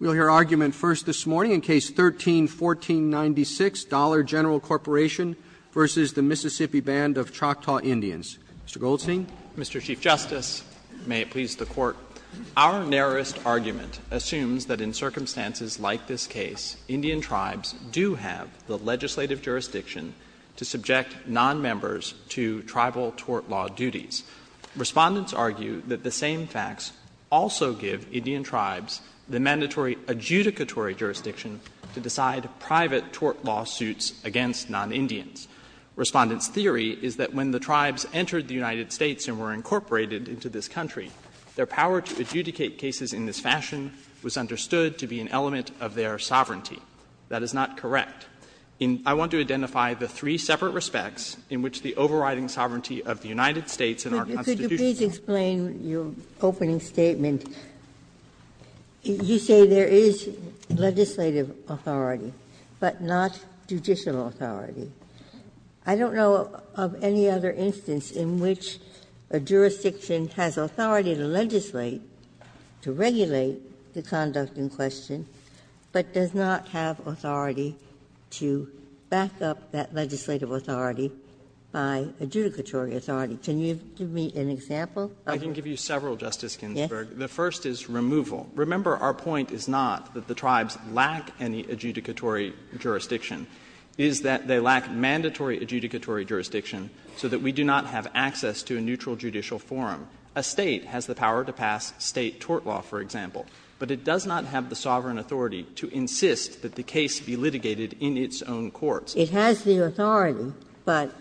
Mr. Goldstein. Mr. Chief Justice, may it please the Court. Our narrowest argument assumes that in circumstances like this case, Indian tribes do have the legislative jurisdiction to subject nonmembers to tribal tort law duties. Respondents argue that the same facts the mandatory adjudicatory jurisdiction to decide private tort lawsuits against non-Indians. Respondents' theory is that when the tribes entered the United States and were incorporated into this country, their power to adjudicate cases in this fashion was understood to be an element of their sovereignty. That is not correct. I want to identify the three separate respects in which the overriding sovereignty of the United States and our Constitution. Ginsburg, please explain your opening statement. You say there is legislative authority, but not judicial authority. I don't know of any other instance in which a jurisdiction has authority to legislate, to regulate the conduct in question, but does not have authority to back up that legislative authority by adjudicatory authority. Can you give me an example? I can give you several, Justice Ginsburg. The first is removal. Remember, our point is not that the tribes lack any adjudicatory jurisdiction. It is that they lack mandatory adjudicatory jurisdiction so that we do not have access to a neutral judicial forum. A State has the power to pass State tort law, for example, but it does not have the sovereign authority to insist that the case be litigated in its own courts. It has the authority, but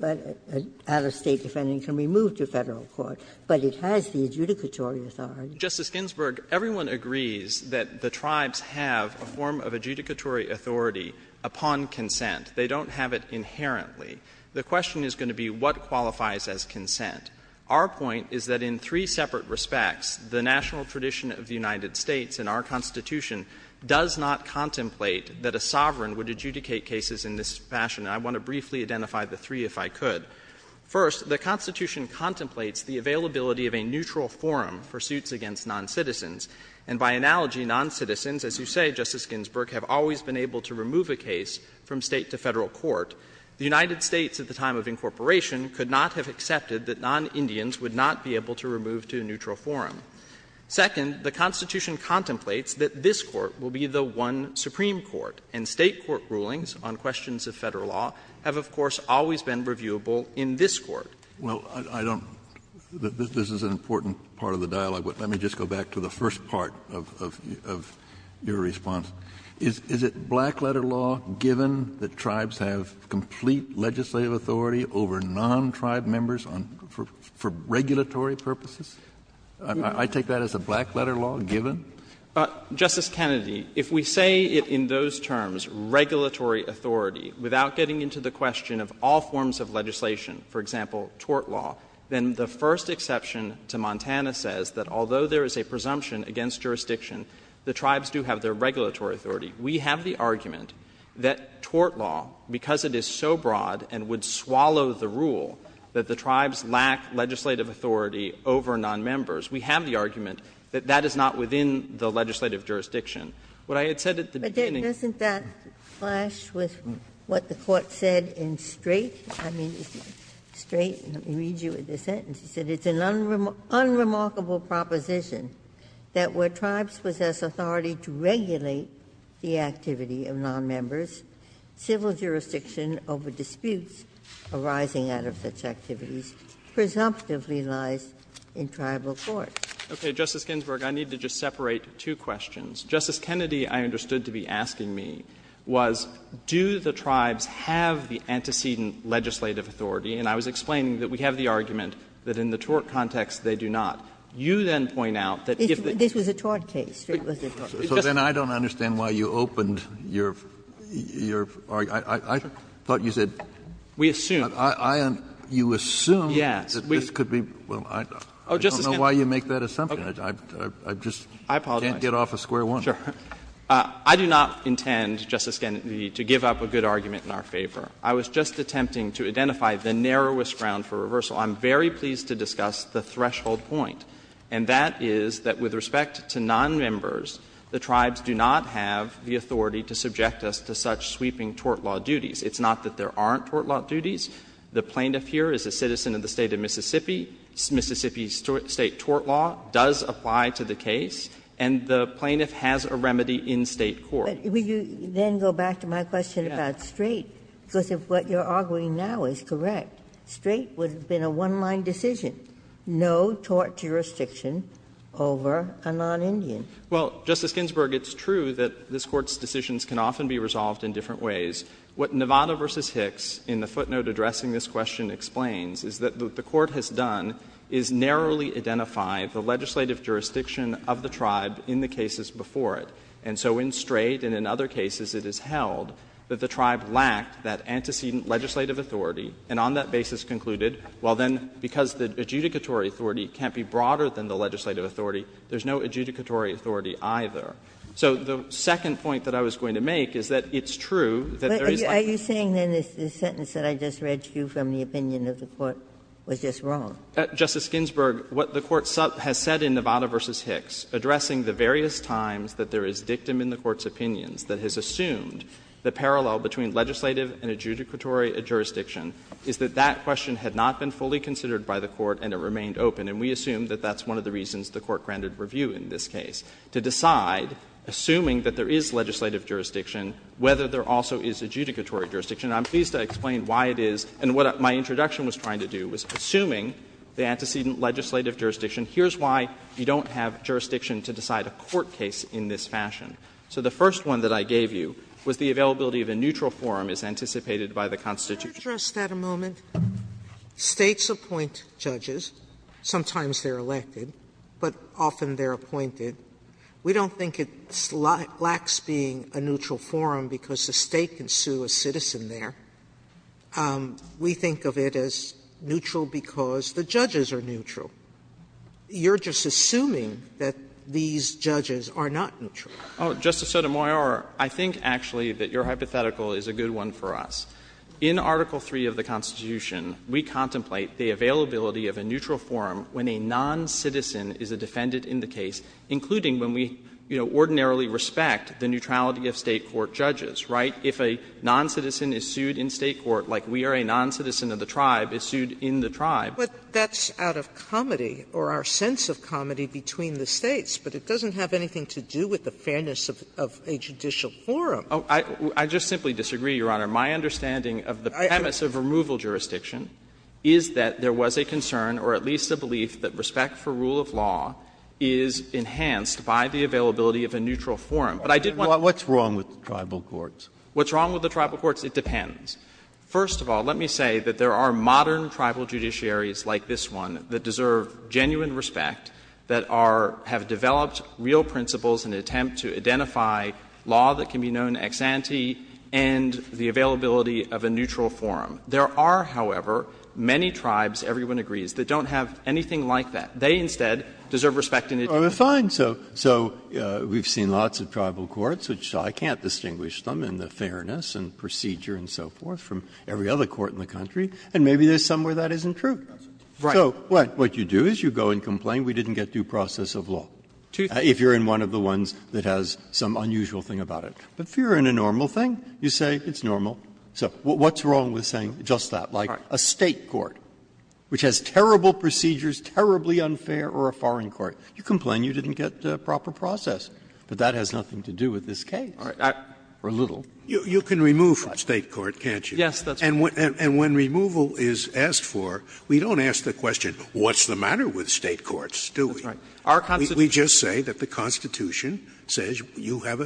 an out-of-State defendant can be moved to Federal court. But it has the adjudicatory authority. Justice Ginsburg, everyone agrees that the tribes have a form of adjudicatory authority upon consent. They don't have it inherently. The question is going to be what qualifies as consent. Our point is that in three separate respects, the national tradition of the United States and our Constitution does not contemplate that a sovereign would adjudicate cases in this fashion, and I want to briefly identify the three if I could. First, the Constitution contemplates the availability of a neutral forum for suits against noncitizens. And by analogy, noncitizens, as you say, Justice Ginsburg, have always been able to remove a case from State to Federal court. The United States at the time of incorporation could not have accepted that nonIndians would not be able to remove to a neutral forum. Second, the Constitution contemplates that this court will be the one supreme court, and State court rulings on questions of Federal law have, of course, always been reviewable in this court. Kennedy, this is an important part of the dialogue, but let me just go back to the first part of your response. Is it black-letter law given that tribes have complete legislative authority over non-tribe members for regulatory purposes? I take that as a black-letter law given? Justice Kennedy, if we say it in those terms, regulatory authority, without getting into the question of all forms of legislation, for example, tort law, then the first exception to Montana says that although there is a presumption against jurisdiction, the tribes do have their regulatory authority. We have the argument that tort law, because it is so broad and would swallow the rule that the tribes lack legislative authority over nonmembers, we have the argument that that is not within the legislative jurisdiction. What I had said at the beginning of the Court's review is that there is a presumption against jurisdiction. But doesn't that clash with what the Court said in Strait? I mean, Strait, let me read you the sentence. It said, It's an unremarkable proposition that where tribes possess authority to regulate the activity of nonmembers, civil jurisdiction over disputes arising out of such I need to just separate two questions. Justice Kennedy, I understood to be asking me, was do the tribes have the antecedent legislative authority? And I was explaining that we have the argument that in the tort context, they do not. You then point out that if the This was a tort case. So then I don't understand why you opened your, your, I, I, I, I thought you said We assume. I, I, I, you assume that this could be Well, I, I don't know why you make that assumption. I, I, I just I apologize. Can't get off of square one. Sure. I do not intend, Justice Kennedy, to give up a good argument in our favor. I was just attempting to identify the narrowest ground for reversal. I'm very pleased to discuss the threshold point, and that is that with respect to nonmembers, the tribes do not have the authority to subject us to such sweeping tort law duties. It's not that there aren't tort law duties. The plaintiff here is a citizen of the State of Mississippi. Mississippi's State tort law does apply to the case, and the plaintiff has a remedy in State court. Ginsburg. But would you then go back to my question about Strait, because if what you are arguing now is correct, Strait would have been a one-line decision, no tort jurisdiction over a non-Indian. Well, Justice Ginsburg, it's true that this Court's decisions can often be resolved in different ways. What Nevada v. Hicks in the footnote addressing this question explains is that what the Court has done is narrowly identify the legislative jurisdiction of the tribe in the cases before it. And so in Strait and in other cases it is held that the tribe lacked that antecedent legislative authority, and on that basis concluded, well, then, because the adjudicatory authority can't be broader than the legislative authority, there's no adjudicatory authority either. So the second point that I was going to make is that it's true that there is a legitimacy of the tribe. Was this wrong? Justice Ginsburg, what the Court has said in Nevada v. Hicks, addressing the various times that there is dictum in the Court's opinions that has assumed the parallel between legislative and adjudicatory jurisdiction, is that that question had not been fully considered by the Court and it remained open, and we assume that that's one of the reasons the Court granted review in this case, to decide, assuming that there is legislative jurisdiction, whether there also is adjudicatory jurisdiction. And I'm pleased to explain why it is, and what my introduction was trying to do, was assuming the antecedent legislative jurisdiction. Here's why you don't have jurisdiction to decide a court case in this fashion. So the first one that I gave you was the availability of a neutral forum as anticipated by the Constitution. Sotomayor, can I address that a moment? States appoint judges. Sometimes they're elected, but often they're appointed. Sotomayor, we think of it as neutral because the judges are neutral. You're just assuming that these judges are not neutral. Oh, Justice Sotomayor, I think actually that your hypothetical is a good one for us. In Article III of the Constitution, we contemplate the availability of a neutral forum when a noncitizen is a defendant in the case, including when we, you know, ordinarily respect the neutrality of State court judges, right? If a noncitizen is sued in State court, like we are a noncitizen of the tribe, is sued in the tribe. But that's out of comedy or our sense of comedy between the States. But it doesn't have anything to do with the fairness of a judicial forum. I just simply disagree, Your Honor. My understanding of the premise of removal jurisdiction is that there was a concern or at least a belief that respect for rule of law is enhanced by the availability of a neutral forum. But I did want to say that I think that's a good point. What's wrong with tribal courts? What's wrong with the tribal courts? It depends. First of all, let me say that there are modern tribal judiciaries like this one that deserve genuine respect, that are — have developed real principles in an attempt to identify law that can be known ex ante and the availability of a neutral forum. There are, however, many tribes, everyone agrees, that don't have anything like that. They instead deserve respect in a judicial forum. Breyer. So we've seen lots of tribal courts, which I can't distinguish them in the fairness and procedure and so forth from every other court in the country, and maybe there's some where that isn't true. So what you do is you go and complain, we didn't get due process of law, if you're in one of the ones that has some unusual thing about it. But if you're in a normal thing, you say it's normal. So what's wrong with saying just that, like a State court, which has terrible procedures, terribly unfair, or a foreign court? You complain you didn't get proper process. But that has nothing to do with this case, or little. Scalia, you can remove from State court, can't you? Yes, that's right. And when removal is asked for, we don't ask the question, what's the matter with State courts, do we? That's right. Our Constitution. We just say that the Constitution says you have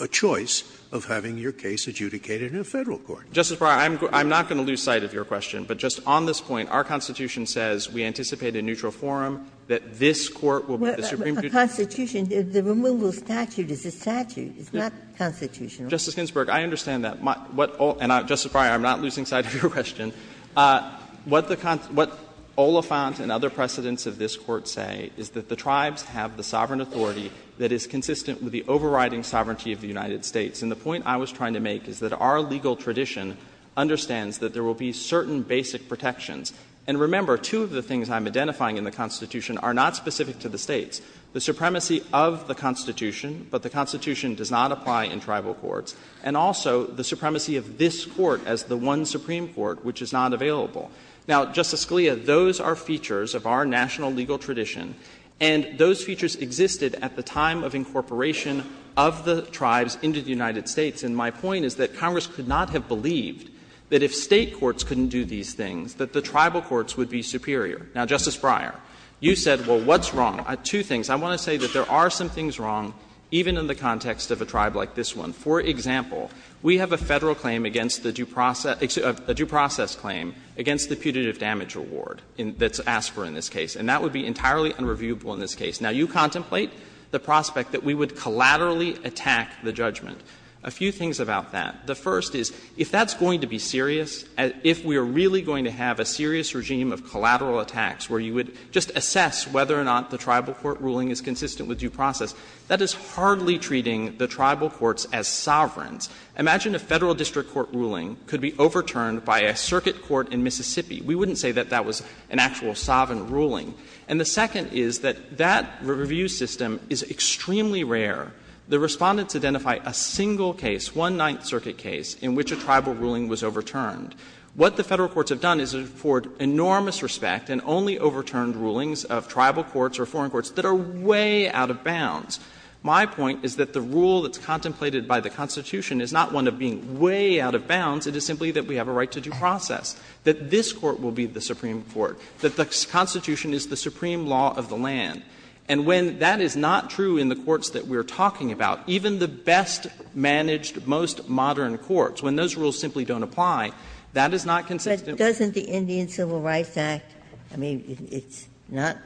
a choice of having your case adjudicated in a Federal court. Justice Breyer, I'm not going to lose sight of your question, but just on this point, our Constitution says we anticipate a neutral forum, that this Court will be the supreme judge. But the Constitution, the removal statute is a statute, it's not constitutional. Justice Ginsburg, I understand that. And, Justice Breyer, I'm not losing sight of your question. What Oliphant and other precedents of this Court say is that the tribes have the sovereign authority that is consistent with the overriding sovereignty of the United States. And the point I was trying to make is that our legal tradition understands that there will be certain basic protections. And remember, two of the things I'm identifying in the Constitution are not specific to the States, the supremacy of the Constitution, but the Constitution does not apply in tribal courts, and also the supremacy of this Court as the one supreme court which is not available. Now, Justice Scalia, those are features of our national legal tradition, and those features existed at the time of incorporation of the tribes into the United States. And my point is that Congress could not have believed that if State courts couldn't do these things, that the tribal courts would be superior. Now, Justice Breyer, you said, well, what's wrong? Two things. I want to say that there are some things wrong, even in the context of a tribe like this one. For example, we have a Federal claim against the due process — excuse me, a due process claim against the putative damage reward that's asked for in this case. And that would be entirely unreviewable in this case. Now, you contemplate the prospect that we would collaterally attack the judgment. A few things about that. The first is, if that's going to be serious, if we are really going to have a serious regime of collateral attacks where you would just assess whether or not the tribal court ruling is consistent with due process, that is hardly treating the tribal courts as sovereigns. Imagine a Federal district court ruling could be overturned by a circuit court in Mississippi. We wouldn't say that that was an actual sovereign ruling. And the second is that that review system is extremely rare. The Respondents identify a single case, one Ninth Circuit case, in which a tribal ruling was overturned. What the Federal courts have done is afford enormous respect and only overturned rulings of tribal courts or foreign courts that are way out of bounds. My point is that the rule that's contemplated by the Constitution is not one of being way out of bounds. It is simply that we have a right to due process, that this court will be the supreme court, that the Constitution is the supreme law of the land. And when that is not true in the courts that we are talking about, even the best managed, most modern courts, when those rules simply don't apply, that is not consistent with the Constitution. Ginsburg. But doesn't the Indian Civil Rights Act, I mean, it's not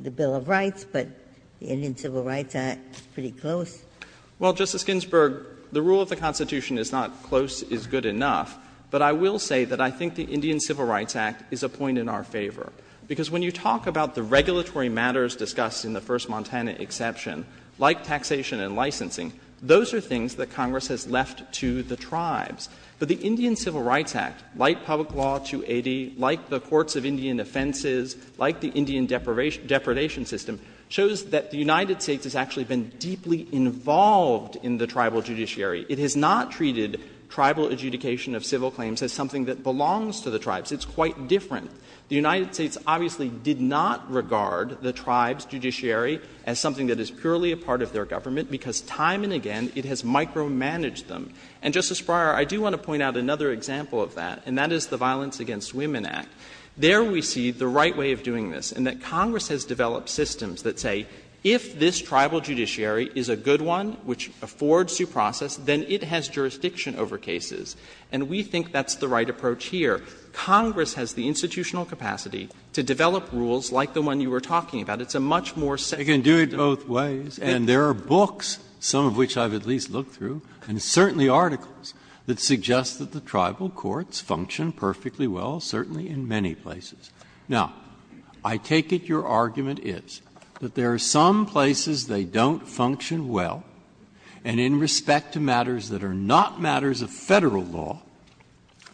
the Bill of Rights, but the Indian Civil Rights Act is pretty close? Well, Justice Ginsburg, the rule of the Constitution is not close is good enough, but I will say that I think the Indian Civil Rights Act is a point in our favor. Because when you talk about the regulatory matters discussed in the First Montana exception, like taxation and licensing, those are things that Congress has left to the tribes. But the Indian Civil Rights Act, like Public Law 280, like the courts of Indian offenses, like the Indian Depredation System, shows that the United States has actually been deeply involved in the tribal judiciary. It has not treated tribal adjudication of civil claims as something that belongs to the tribes. It's quite different. The United States obviously did not regard the tribes' judiciary as something that is purely a part of their government, because time and again it has micromanaged them. And, Justice Breyer, I do want to point out another example of that, and that is the Violence Against Women Act. There we see the right way of doing this, and that Congress has developed systems that say if this tribal judiciary is a good one which affords due process, then it has jurisdiction over cases. And we think that's the right approach here. Congress has the institutional capacity to develop rules like the one you were talking about. It's a much more set up system. Breyer, and there are books, some of which I have at least looked through, and certainly articles, that suggest that the tribal courts function perfectly well, certainly in many places. Now, I take it your argument is that there are some places they don't function well, and in respect to matters that are not matters of Federal law,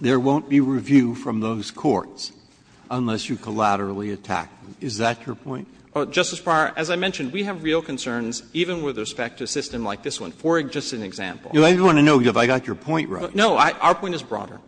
there won't be review from those courts unless you collaterally attack them. Is that your point? Justice Breyer, as I mentioned, we have real concerns even with respect to a system like this one. For just an example. I just want to know if I got your point right. No, our point is broader.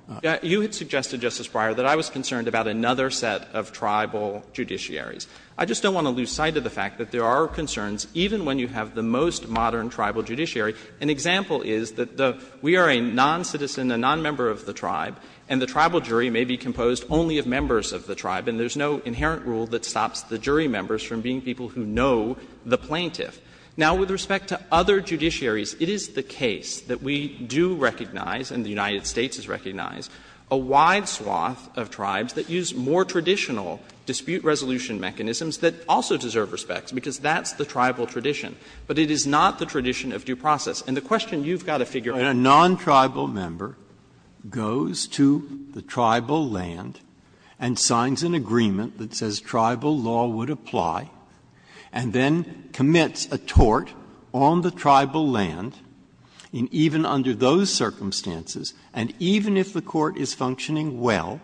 You had suggested, Justice Breyer, that I was concerned about another set of tribal judiciaries. I just don't want to lose sight of the fact that there are concerns even when you have the most modern tribal judiciary. An example is that we are a noncitizen, a nonmember of the tribe, and the tribal jury may be composed only of members of the tribe, and there is no inherent rule that stops the jury members from being people who know the plaintiff. Now, with respect to other judiciaries, it is the case that we do recognize and the United States has recognized a wide swath of tribes that use more traditional dispute resolution mechanisms that also deserve respect, because that's the tribal tradition. But it is not the tradition of due process. And the question you've got to figure out is whether or not that's the case. Breyer, a non-tribal member goes to the tribal land and signs an agreement that says tribal law would apply, and then commits a tort on the tribal land, even under those circumstances, and even if the court is functioning well,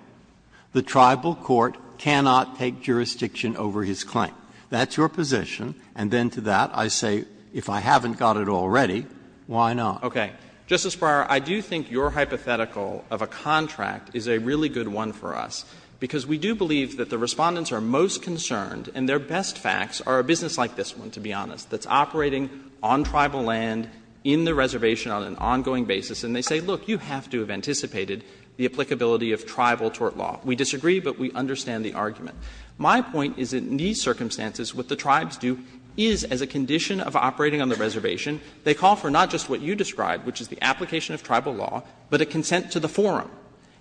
the tribal court cannot take jurisdiction over his claim. That's your position. And then to that I say, if I haven't got it already, why not? Okay. Justice Breyer, I do think your hypothetical of a contract is a really good one for us, because we do believe that the Respondents are most concerned, and their best facts are a business like this one, to be honest, that's operating on tribal land in the reservation on an ongoing basis, and they say, look, you have to have anticipated the applicability of tribal tort law. We disagree, but we understand the argument. My point is that in these circumstances, what the tribes do is, as a condition of operating on the reservation, they call for not just what you described, which is the application of tribal law, but a consent to the forum.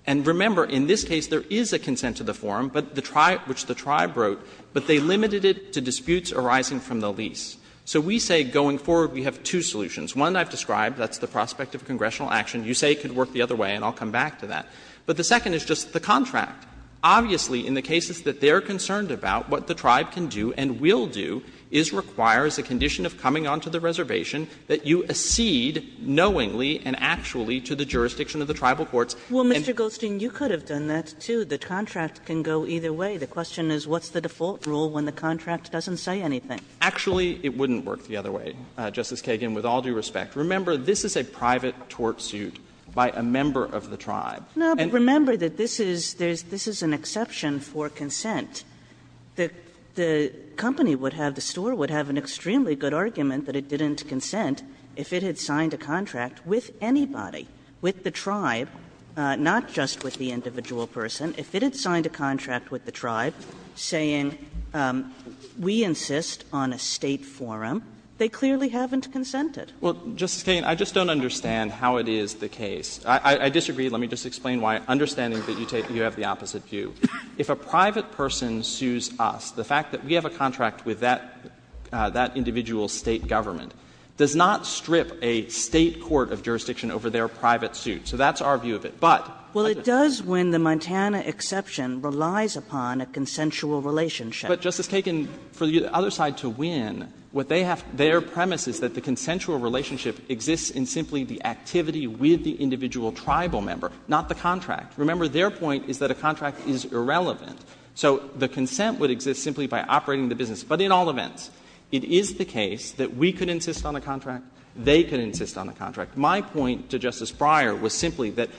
And remember, in this case, there is a consent to the forum, but the tribe — which the tribe wrote, but they limited it to disputes arising from the lease. So we say going forward, we have two solutions. One I've described, that's the prospect of congressional action. You say it could work the other way, and I'll come back to that. But the second is just the contract. Obviously, in the cases that they're concerned about, what the tribe can do and will do is require, as a condition of coming onto the reservation, that you accede knowingly and actually to the jurisdiction of the tribal courts. And the contract can go either way. The question is what's the default rule when the contract doesn't say anything? Actually, it wouldn't work the other way, Justice Kagan, with all due respect. Remember, this is a private tort suit by a member of the tribe. Kagan. No, but remember that this is an exception for consent. The company would have, the store would have an extremely good argument that it didn't consent if it had signed a contract with anybody, with the tribe, not just with the individual person. If it had signed a contract with the tribe saying, we insist on a State forum, they clearly haven't consented. Well, Justice Kagan, I just don't understand how it is the case. I disagree. Let me just explain why, understanding that you have the opposite view. If a private person sues us, the fact that we have a contract with that individual State government does not strip a State court of jurisdiction over their private suit. So that's our view of it. But I just don't understand. Well, it does when the Montana exception relies upon a consensual relationship. But, Justice Kagan, for the other side to win, what they have, their premise is that the consensual relationship exists in simply the activity with the individual tribal member, not the contract. Remember, their point is that a contract is irrelevant. So the consent would exist simply by operating the business. But in all events, it is the case that we could insist on a contract, they could insist on a contract. My point to Justice Breyer was simply that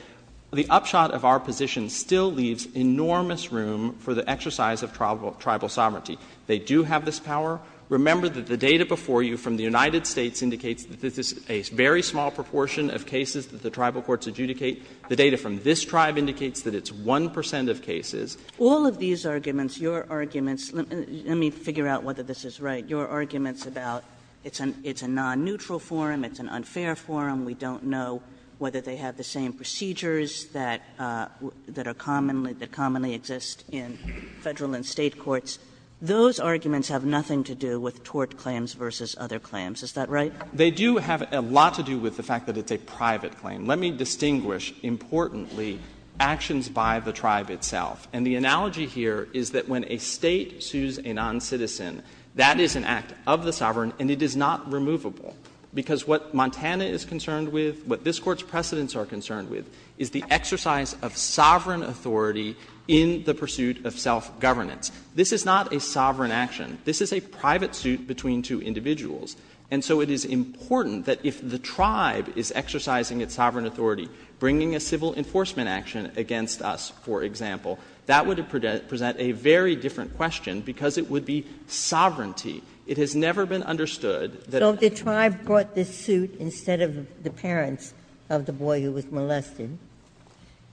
the upshot of our position still leaves enormous room for the exercise of tribal sovereignty. They do have this power. Remember that the data before you from the United States indicates that this is a very small proportion of cases that the tribal courts adjudicate. The data from this tribe indicates that it's 1 percent of cases. All of these arguments, your arguments, let me figure out whether this is right. Your arguments about it's a non-neutral forum, it's an unfair forum, we don't know whether they have the same procedures that are commonly, that commonly exist in Federal and State courts. Those arguments have nothing to do with tort claims versus other claims. Is that right? They do have a lot to do with the fact that it's a private claim. Let me distinguish, importantly, actions by the tribe itself. And the analogy here is that when a State sues a non-citizen, that is an act of the sovereign and it is not removable. Because what Montana is concerned with, what this Court's precedents are concerned with, is the exercise of sovereign authority in the pursuit of self-governance. This is not a sovereign action. This is a private suit between two individuals. And so it is important that if the tribe is exercising its sovereign authority, bringing a civil enforcement action against us, for example, that would present a very different question, because it would be sovereignty. It has never been understood that a tribe brought this suit instead of the parents of the boy who was molested,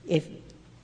if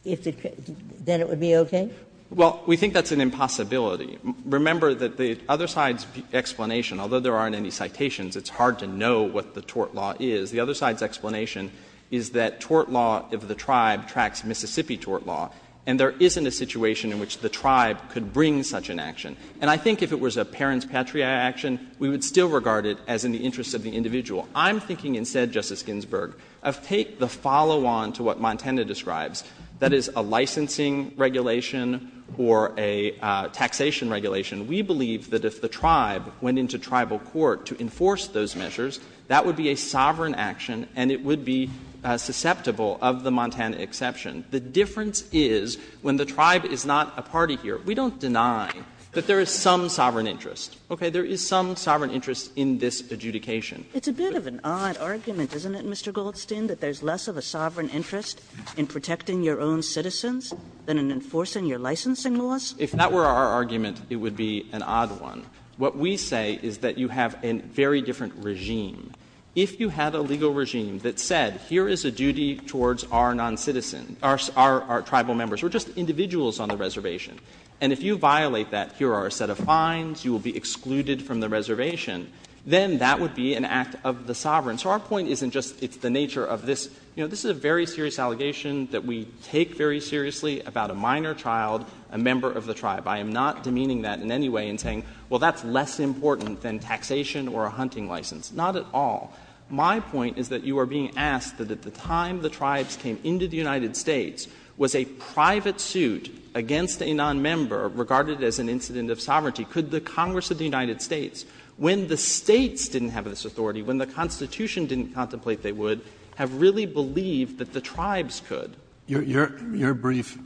it could, then it would be okay? Well, we think that's an impossibility. Remember that the other side's explanation, although there aren't any citations, it's hard to know what the tort law is. The other side's explanation is that tort law of the tribe tracks Mississippi tort law, and there isn't a situation in which the tribe could bring such an action. And I think if it was a parents' patria action, we would still regard it as in the interest of the individual. I'm thinking instead, Justice Ginsburg, of take the follow-on to what Montana describes, that is, a licensing regulation or a taxation regulation. We believe that if the tribe went into tribal court to enforce those measures, that would be a sovereign action and it would be susceptible of the Montana exception. The difference is, when the tribe is not a party here, we don't deny that there is some sovereign interest, okay? There is some sovereign interest in this adjudication. It's a bit of an odd argument, isn't it, Mr. Goldstein, that there's less of a sovereign interest in protecting your own citizens than in enforcing your licensing laws? Goldstein, if that were our argument, it would be an odd one. What we say is that you have a very different regime. If you had a legal regime that said, here is a duty towards our noncitizen or our tribal members, or just individuals on the reservation, and if you violate that, here are a set of fines, you will be excluded from the reservation, then that would be an act of the sovereign. So our point isn't just it's the nature of this. You know, this is a very serious allegation that we take very seriously about a minor child, a member of the tribe. I am not demeaning that in any way and saying, well, that's less important than taxation or a hunting license. Not at all. My point is that you are being asked that at the time the tribes came into the United States was a private suit against a nonmember regarded as an incident of sovereignty. Could the Congress of the United States, when the States didn't have this authority, when the Constitution didn't contemplate they would, have really believed that the tribes could? Kennedy, your brief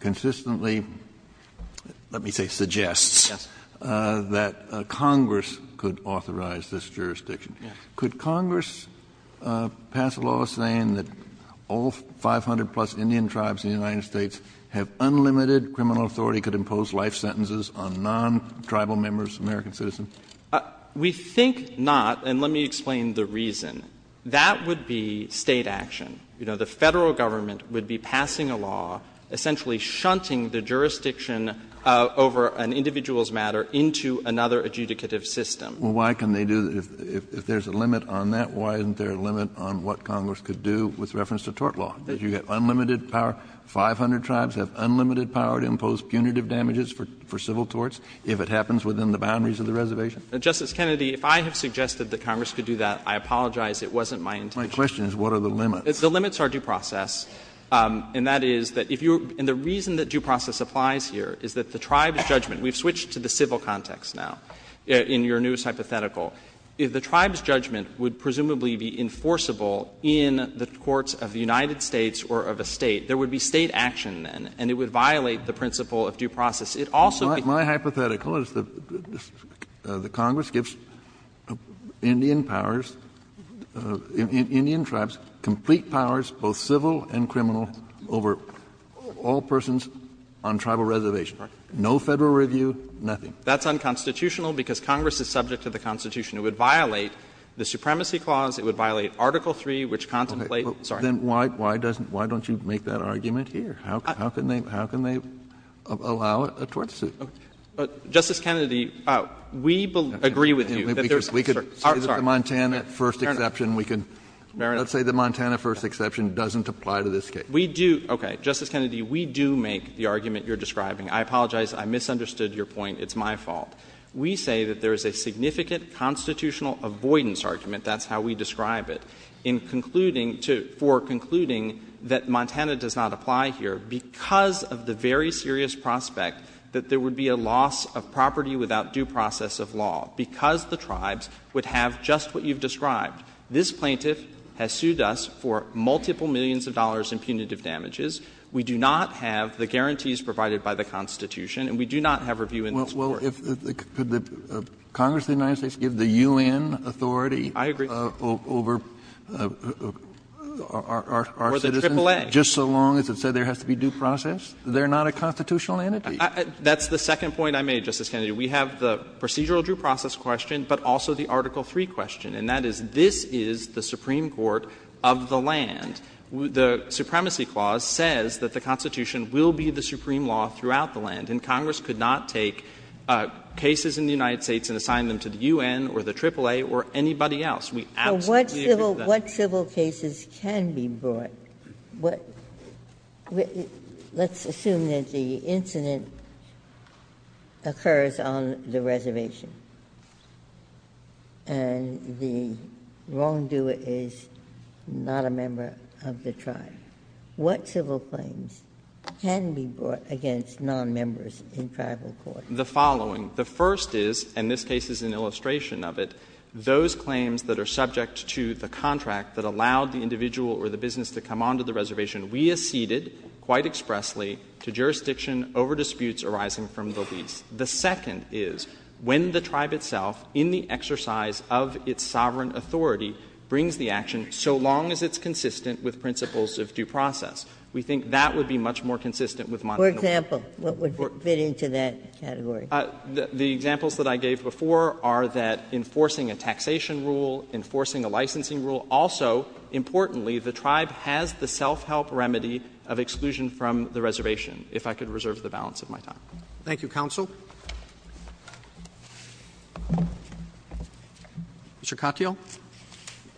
consistently, let me say suggests, that Congress could authorize this jurisdiction. Could Congress pass a law saying that all 500-plus Indian tribes in the United States have unlimited criminal authority, could impose life sentences on non-tribal members, American citizens? We think not, and let me explain the reason. That would be State action. You know, the Federal Government would be passing a law essentially shunting the jurisdiction over an individual's matter into another adjudicative system. Well, why can they do that? If there is a limit on that, why isn't there a limit on what Congress could do with reference to tort law? That you get unlimited power. 500 tribes have unlimited power to impose punitive damages for civil torts. If it happens within the boundaries of the reservation. Justice Kennedy, if I have suggested that Congress could do that, I apologize. It wasn't my intention. My question is what are the limits? The limits are due process, and that is that if you're — and the reason that due process applies here is that the tribes' judgment — we've switched to the civil context now in your newest hypothetical — if the tribes' judgment would presumably be enforceable in the courts of the United States or of a State, there would be State action then, and it would violate the principle of due process. It also would be— Kennedy, my hypothetical is that Congress gives Indian powers, Indian tribes complete powers, both civil and criminal, over all persons on tribal reservation. No Federal review, nothing. That's unconstitutional because Congress is subject to the Constitution. It would violate the Supremacy Clause. It would violate Article III, which contemplates— Then why doesn't — why don't you make that argument here? How can they — how can they allow a tort suit? Justice Kennedy, we agree with you that there's a certain— We could say the Montana first exception, we could— Let's say the Montana first exception doesn't apply to this case. We do — okay. Justice Kennedy, we do make the argument you're describing. I apologize, I misunderstood your point. It's my fault. We say that there is a significant constitutional avoidance argument, that's how we describe it, in concluding to — for concluding that Montana does not apply here. Because of the very serious prospect that there would be a loss of property without due process of law, because the tribes would have just what you've described, this plaintiff has sued us for multiple millions of dollars in punitive damages. We do not have the guarantees provided by the Constitution, and we do not have review in this Court. Well, if the — could the Congress of the United States give the U.N. authority over our citizens? I agree. But if the U.N. authority is not a constitutional entity, then why would we have the right to do due process? They're not a constitutional entity. That's the second point I made, Justice Kennedy. We have the procedural due process question, but also the Article III question, and that is, this is the Supreme Court of the land. The Supremacy Clause says that the Constitution will be the supreme law throughout the land, and Congress could not take cases in the United States and assign them to the U.N. or the AAA or anybody else. We absolutely agree with that. Ginsburg. But what civil cases can be brought? Let's assume that the incident occurs on the reservation, and the wrongdoer is not a member of the tribe. What civil claims can be brought against nonmembers in tribal court? The following. The first is, and this case is an illustration of it, those claims that are subject to the contract that allowed the individual or the business to come onto the reservation we acceded quite expressly to jurisdiction over disputes arising from the lease. The second is, when the tribe itself, in the exercise of its sovereign authority, brings the action so long as it's consistent with principles of due process. We think that would be much more consistent with monitoring. For example, what would fit into that category? The examples that I gave before are that enforcing a taxation rule, enforcing a licensing rule, also, importantly, the tribe has the self-help remedy of exclusion from the reservation, if I could reserve the balance of my time. Thank you, counsel. Mr. Katyal.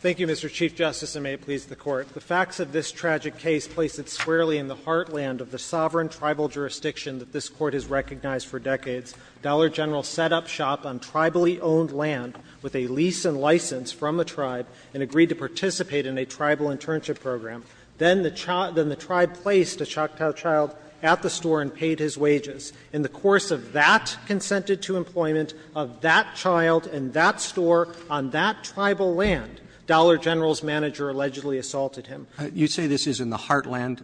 Thank you, Mr. Chief Justice, and may it please the Court. The facts of this tragic case place it squarely in the heartland of the sovereign tribal jurisdiction that this Court has recognized for decades. Dollar General set up shop on tribally owned land with a lease and license from a tribe and agreed to participate in a tribal internship program. Then the tribe placed a Choctaw child at the store and paid his wages. In the course of that consented-to employment of that child in that store on that tribal land, Dollar General's manager allegedly assaulted him. You say this is in the heartland.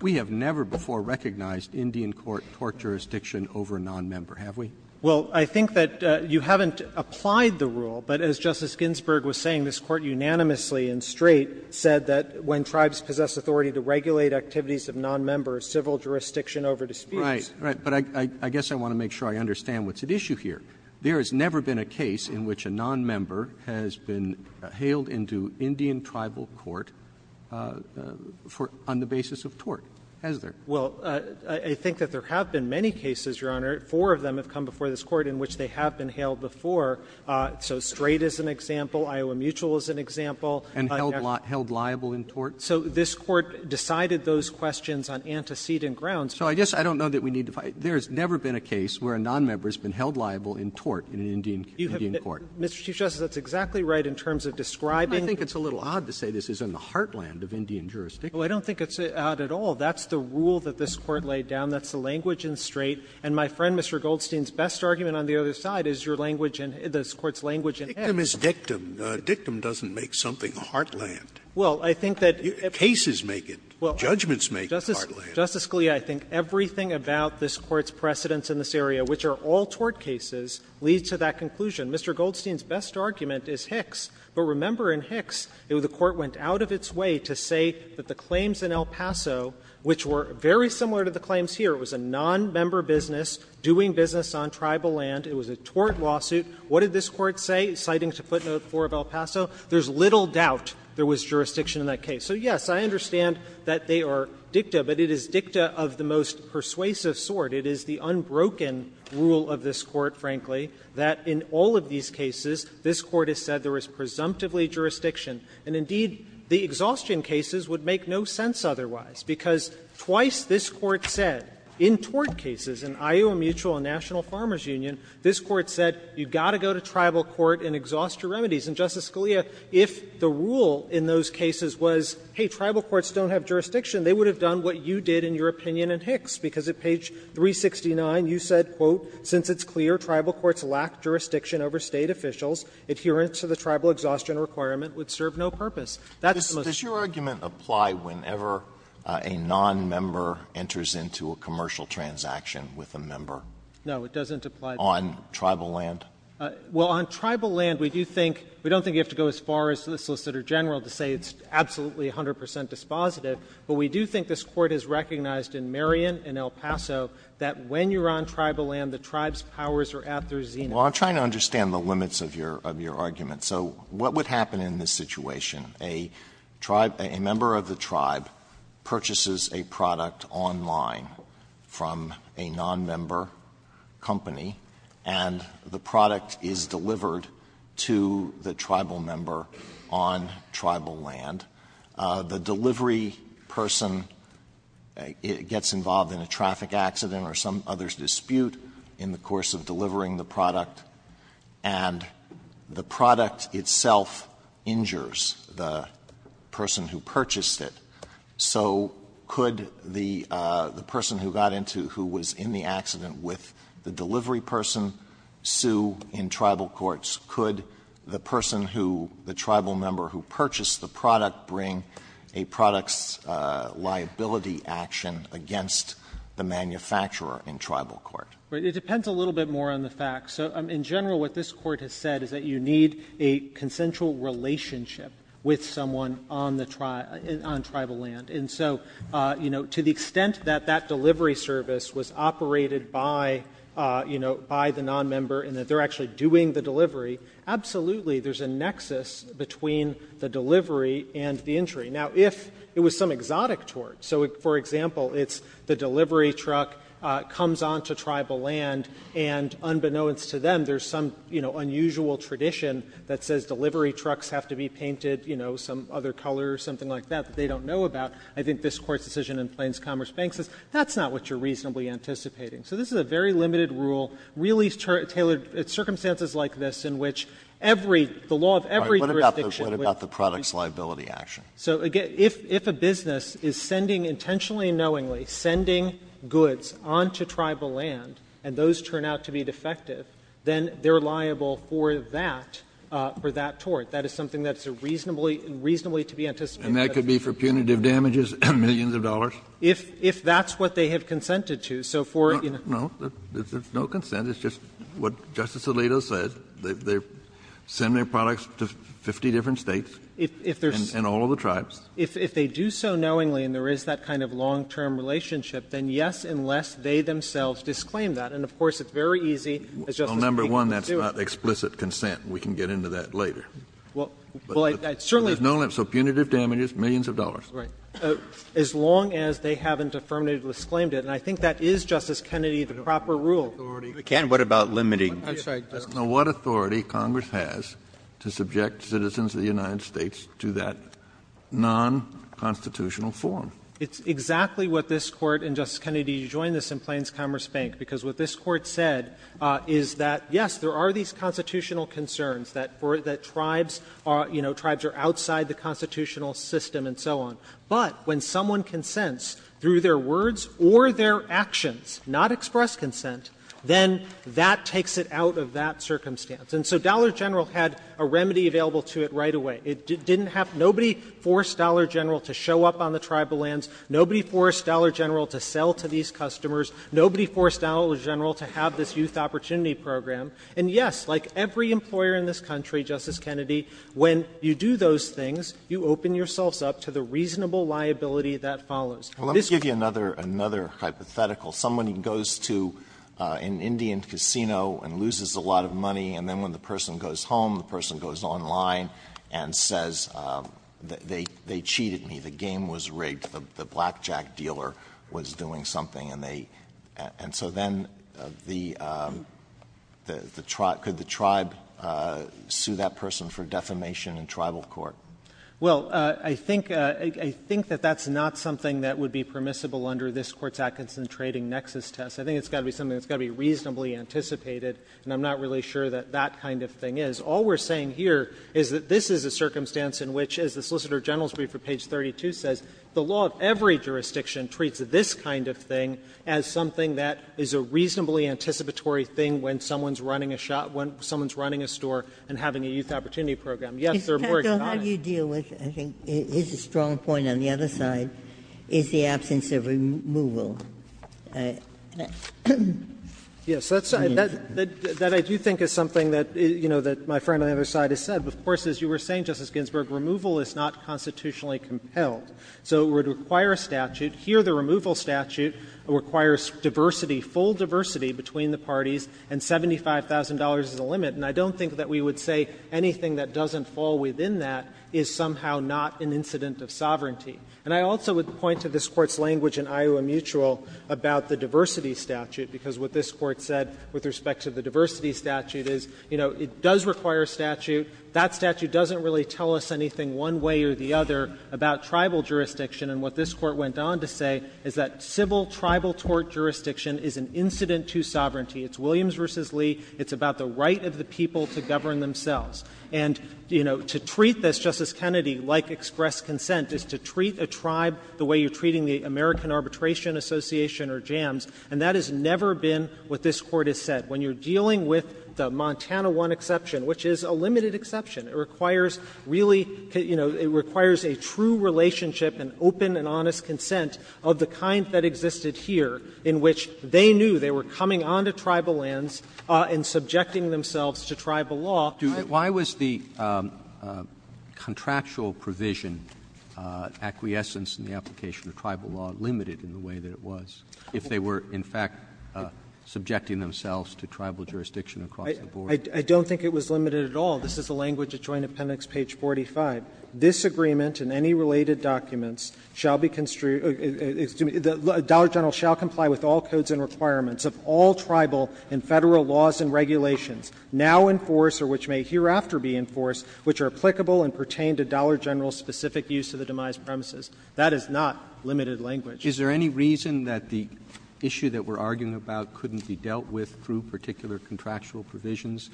We have never before recognized Indian court tort jurisdiction over a nonmember, have we? Well, I think that you haven't applied the rule, but as Justice Ginsburg was saying, this Court unanimously and straight said that when tribes possess authority to regulate activities of nonmember, civil jurisdiction over disputes. Right, right. But I guess I want to make sure I understand what's at issue here. There has never been a case in which a nonmember has been hailed into Indian tribal court on the basis of tort, has there? Well, I think that there have been many cases, Your Honor. Four of them have come before this Court in which they have been hailed before. So straight is an example, Iowa mutual is an example. And held liable in tort? So this Court decided those questions on antecedent grounds. So I guess I don't know that we need to find — there has never been a case where a nonmember has been held liable in tort in an Indian court. Mr. Chief Justice, that's exactly right in terms of describing — I think it's a little odd to say this is in the heartland of Indian jurisdiction. Well, I don't think it's odd at all. That's the rule that this Court laid down. That's the language in straight. And, my friend, Mr. Goldstein's best argument on the other side is your language in — this Court's language in Hicks. Dictum is dictum. Dictum doesn't make something heartland. Well, I think that — Cases make it. Judgments make it heartland. Justice Scalia, I think everything about this Court's precedence in this area, which are all tort cases, leads to that conclusion. Mr. Goldstein's best argument is Hicks, but remember in Hicks, the Court went out of its way to say that the claims in El Paso, which were very similar to the claims here, it was a nonmember business doing business on tribal land, it was a tort lawsuit. What did this Court say, citing to footnote 4 of El Paso? There's little doubt there was jurisdiction in that case. So, yes, I understand that they are dicta, but it is dicta of the most persuasive sort. It is the unbroken rule of this Court, frankly, that in all of these cases, this Court has said there was presumptively jurisdiction. And, indeed, the exhaustion cases would make no sense otherwise, because twice this Court said in tort cases, in Iowa Mutual and National Farmers Union, this Court said you've got to go to tribal court and exhaust your remedies. And, Justice Scalia, if the rule in those cases was, hey, tribal courts don't have jurisdiction, they would have done what you did in your opinion in Hicks, because at page 369, you said, quote, "'Since it's clear tribal courts lack jurisdiction over State officials, adherence to the tribal exhaustion requirement would serve no purpose.'" That's the most ---- Alitoso, does your argument apply whenever a nonmember enters into a commercial transaction with a member? No, it doesn't apply. On tribal land? Well, on tribal land, we do think we don't think you have to go as far as the Solicitor General to say it's absolutely 100 percent dispositive, but we do think this Court has recognized in Marion and El Paso that when you're on tribal land, the tribe's powers are at their zenith. Well, I'm trying to understand the limits of your argument. So what would happen in this situation? A tribe ---- a member of the tribe purchases a product online from a nonmember company, and the product is delivered to the tribal member on tribal land. The delivery person gets involved in a traffic accident or some other dispute in the course of delivering the product, and the product itself injures the person who purchased it. So could the person who got into the ---- who was in the accident with the delivery person sue in tribal courts? Could the person who ---- the tribal member who purchased the product bring a products liability action against the manufacturer in tribal court? It depends a little bit more on the facts. So in general, what this Court has said is that you need a consensual relationship with someone on the tri ---- on tribal land. And so, you know, to the extent that that delivery service was operated by, you know, by the nonmember and that they're actually doing the delivery, absolutely there's a nexus between the delivery and the injury. Now, if it was some exotic tort, so for example, it's the delivery truck comes onto tribal land, and unbeknownst to them, there's some, you know, unusual tradition that says delivery trucks have to be painted, you know, some other color or something like that that they don't know about, I think this Court's decision in Plains Commerce Bank says that's not what you're reasonably anticipating. So this is a very limited rule, really tailored to circumstances like this in which every ---- the law of every jurisdiction would be ---- Kennedy, what about the products liability action? So again, if a business is sending intentionally and knowingly, sending goods onto tribal land, and those turn out to be defective, then they're liable for that, for that tort. That is something that's reasonably to be anticipated. And that could be for punitive damages, millions of dollars? If that's what they have consented to. So for, you know ---- No, no, there's no consent. It's just what Justice Alito said. They send their products to 50 different States and all of the tribes. If they do so knowingly, and there is that kind of long-term relationship, then yes, unless they themselves disclaim that. And of course, it's very easy, as Justice Kagan was doing ---- Well, number one, that's not explicit consent. We can get into that later. Well, I certainly ---- So punitive damages, millions of dollars. Right. As long as they haven't affirmatively disclaimed it. And I think that is, Justice Kennedy, the proper rule. But, Ken, what about limiting? I'm sorry, Justice Kennedy. Now, what authority Congress has to subject citizens of the United States to that non-constitutional form? It's exactly what this Court, and, Justice Kennedy, you join this in Plains Commerce Bank, because what this Court said is that, yes, there are these constitutional concerns that tribes are, you know, tribes are outside the constitutional system and so on. But when someone consents through their words or their actions, not express consent, then that takes it out of that circumstance. And so Dollar General had a remedy available to it right away. It didn't have to be forced. Nobody forced Dollar General to show up on the tribal lands. Nobody forced Dollar General to sell to these customers. Nobody forced Dollar General to have this youth opportunity program. And, yes, like every employer in this country, Justice Kennedy, when you do those things, you open yourselves up to the reasonable liability that follows. Alito, let me give you another hypothetical. Someone goes to an Indian casino and loses a lot of money, and then when the person goes home, the person goes online and says, they cheated me, the game was rigged, the blackjack dealer was doing something, and they – and so then the – could the tribe sue that person for defamation in tribal court? Well, I think – I think that that's not something that would be permissible under this Court's Atkinson Trading Nexus test. I think it's got to be something that's got to be reasonably anticipated, and I'm not really sure that that kind of thing is. All we're saying here is that this is a circumstance in which, as the Solicitor General's brief at page 32 says, the law of every jurisdiction treats this kind of thing as something that is a reasonably anticipatory thing when someone's running a shop – when someone's running a store and having a youth opportunity program. Yes, there are more economies. Ginsburg. How do you deal with – I think his strong point on the other side is the absence of removal. Yes, that's – that I do think is something that, you know, that my friend on the other side has said. Of course, as you were saying, Justice Ginsburg, removal is not constitutionally compelled. So it would require a statute. Here, the removal statute requires diversity, full diversity between the parties, and $75,000 is the limit. And I don't think that we would say anything that doesn't fall within that is somehow not an incident of sovereignty. And I also would point to this Court's language in Iowa Mutual about the diversity statute, because what this Court said with respect to the diversity statute is, you know, it does require a statute. That statute doesn't really tell us anything one way or the other about tribal jurisdiction. And what this Court went on to say is that civil tribal tort jurisdiction is an incident to sovereignty. It's Williams v. Lee. It's about the right of the people to govern themselves. And, you know, to treat this, Justice Kennedy, like express consent is to treat a tribe the way you're treating the American Arbitration Association or JAMS, and that has never been what this Court has said. When you're dealing with the Montana 1 exception, which is a limited exception, it requires really, you know, it requires a true relationship and open and honest consent of the kind that existed here in which they knew they were coming onto tribal lands and subjecting themselves to tribal law. Roberts. Roberts. Why was the contractual provision, acquiescence in the application of tribal law, limited in the way that it was if they were in fact subjecting themselves to tribal jurisdiction across the board? I don't think it was limited at all. This is the language at Joint Appendix page 45. This agreement and any related documents shall be construed — excuse me, the dollar general shall comply with all codes and requirements of all tribal and Federal laws and regulations now in force or which may hereafter be in force, which are applicable and pertain to dollar general-specific use of the demise premises. That is not limited language. Is there any reason that the issue that we're arguing about couldn't be dealt with through particular contractual provisions,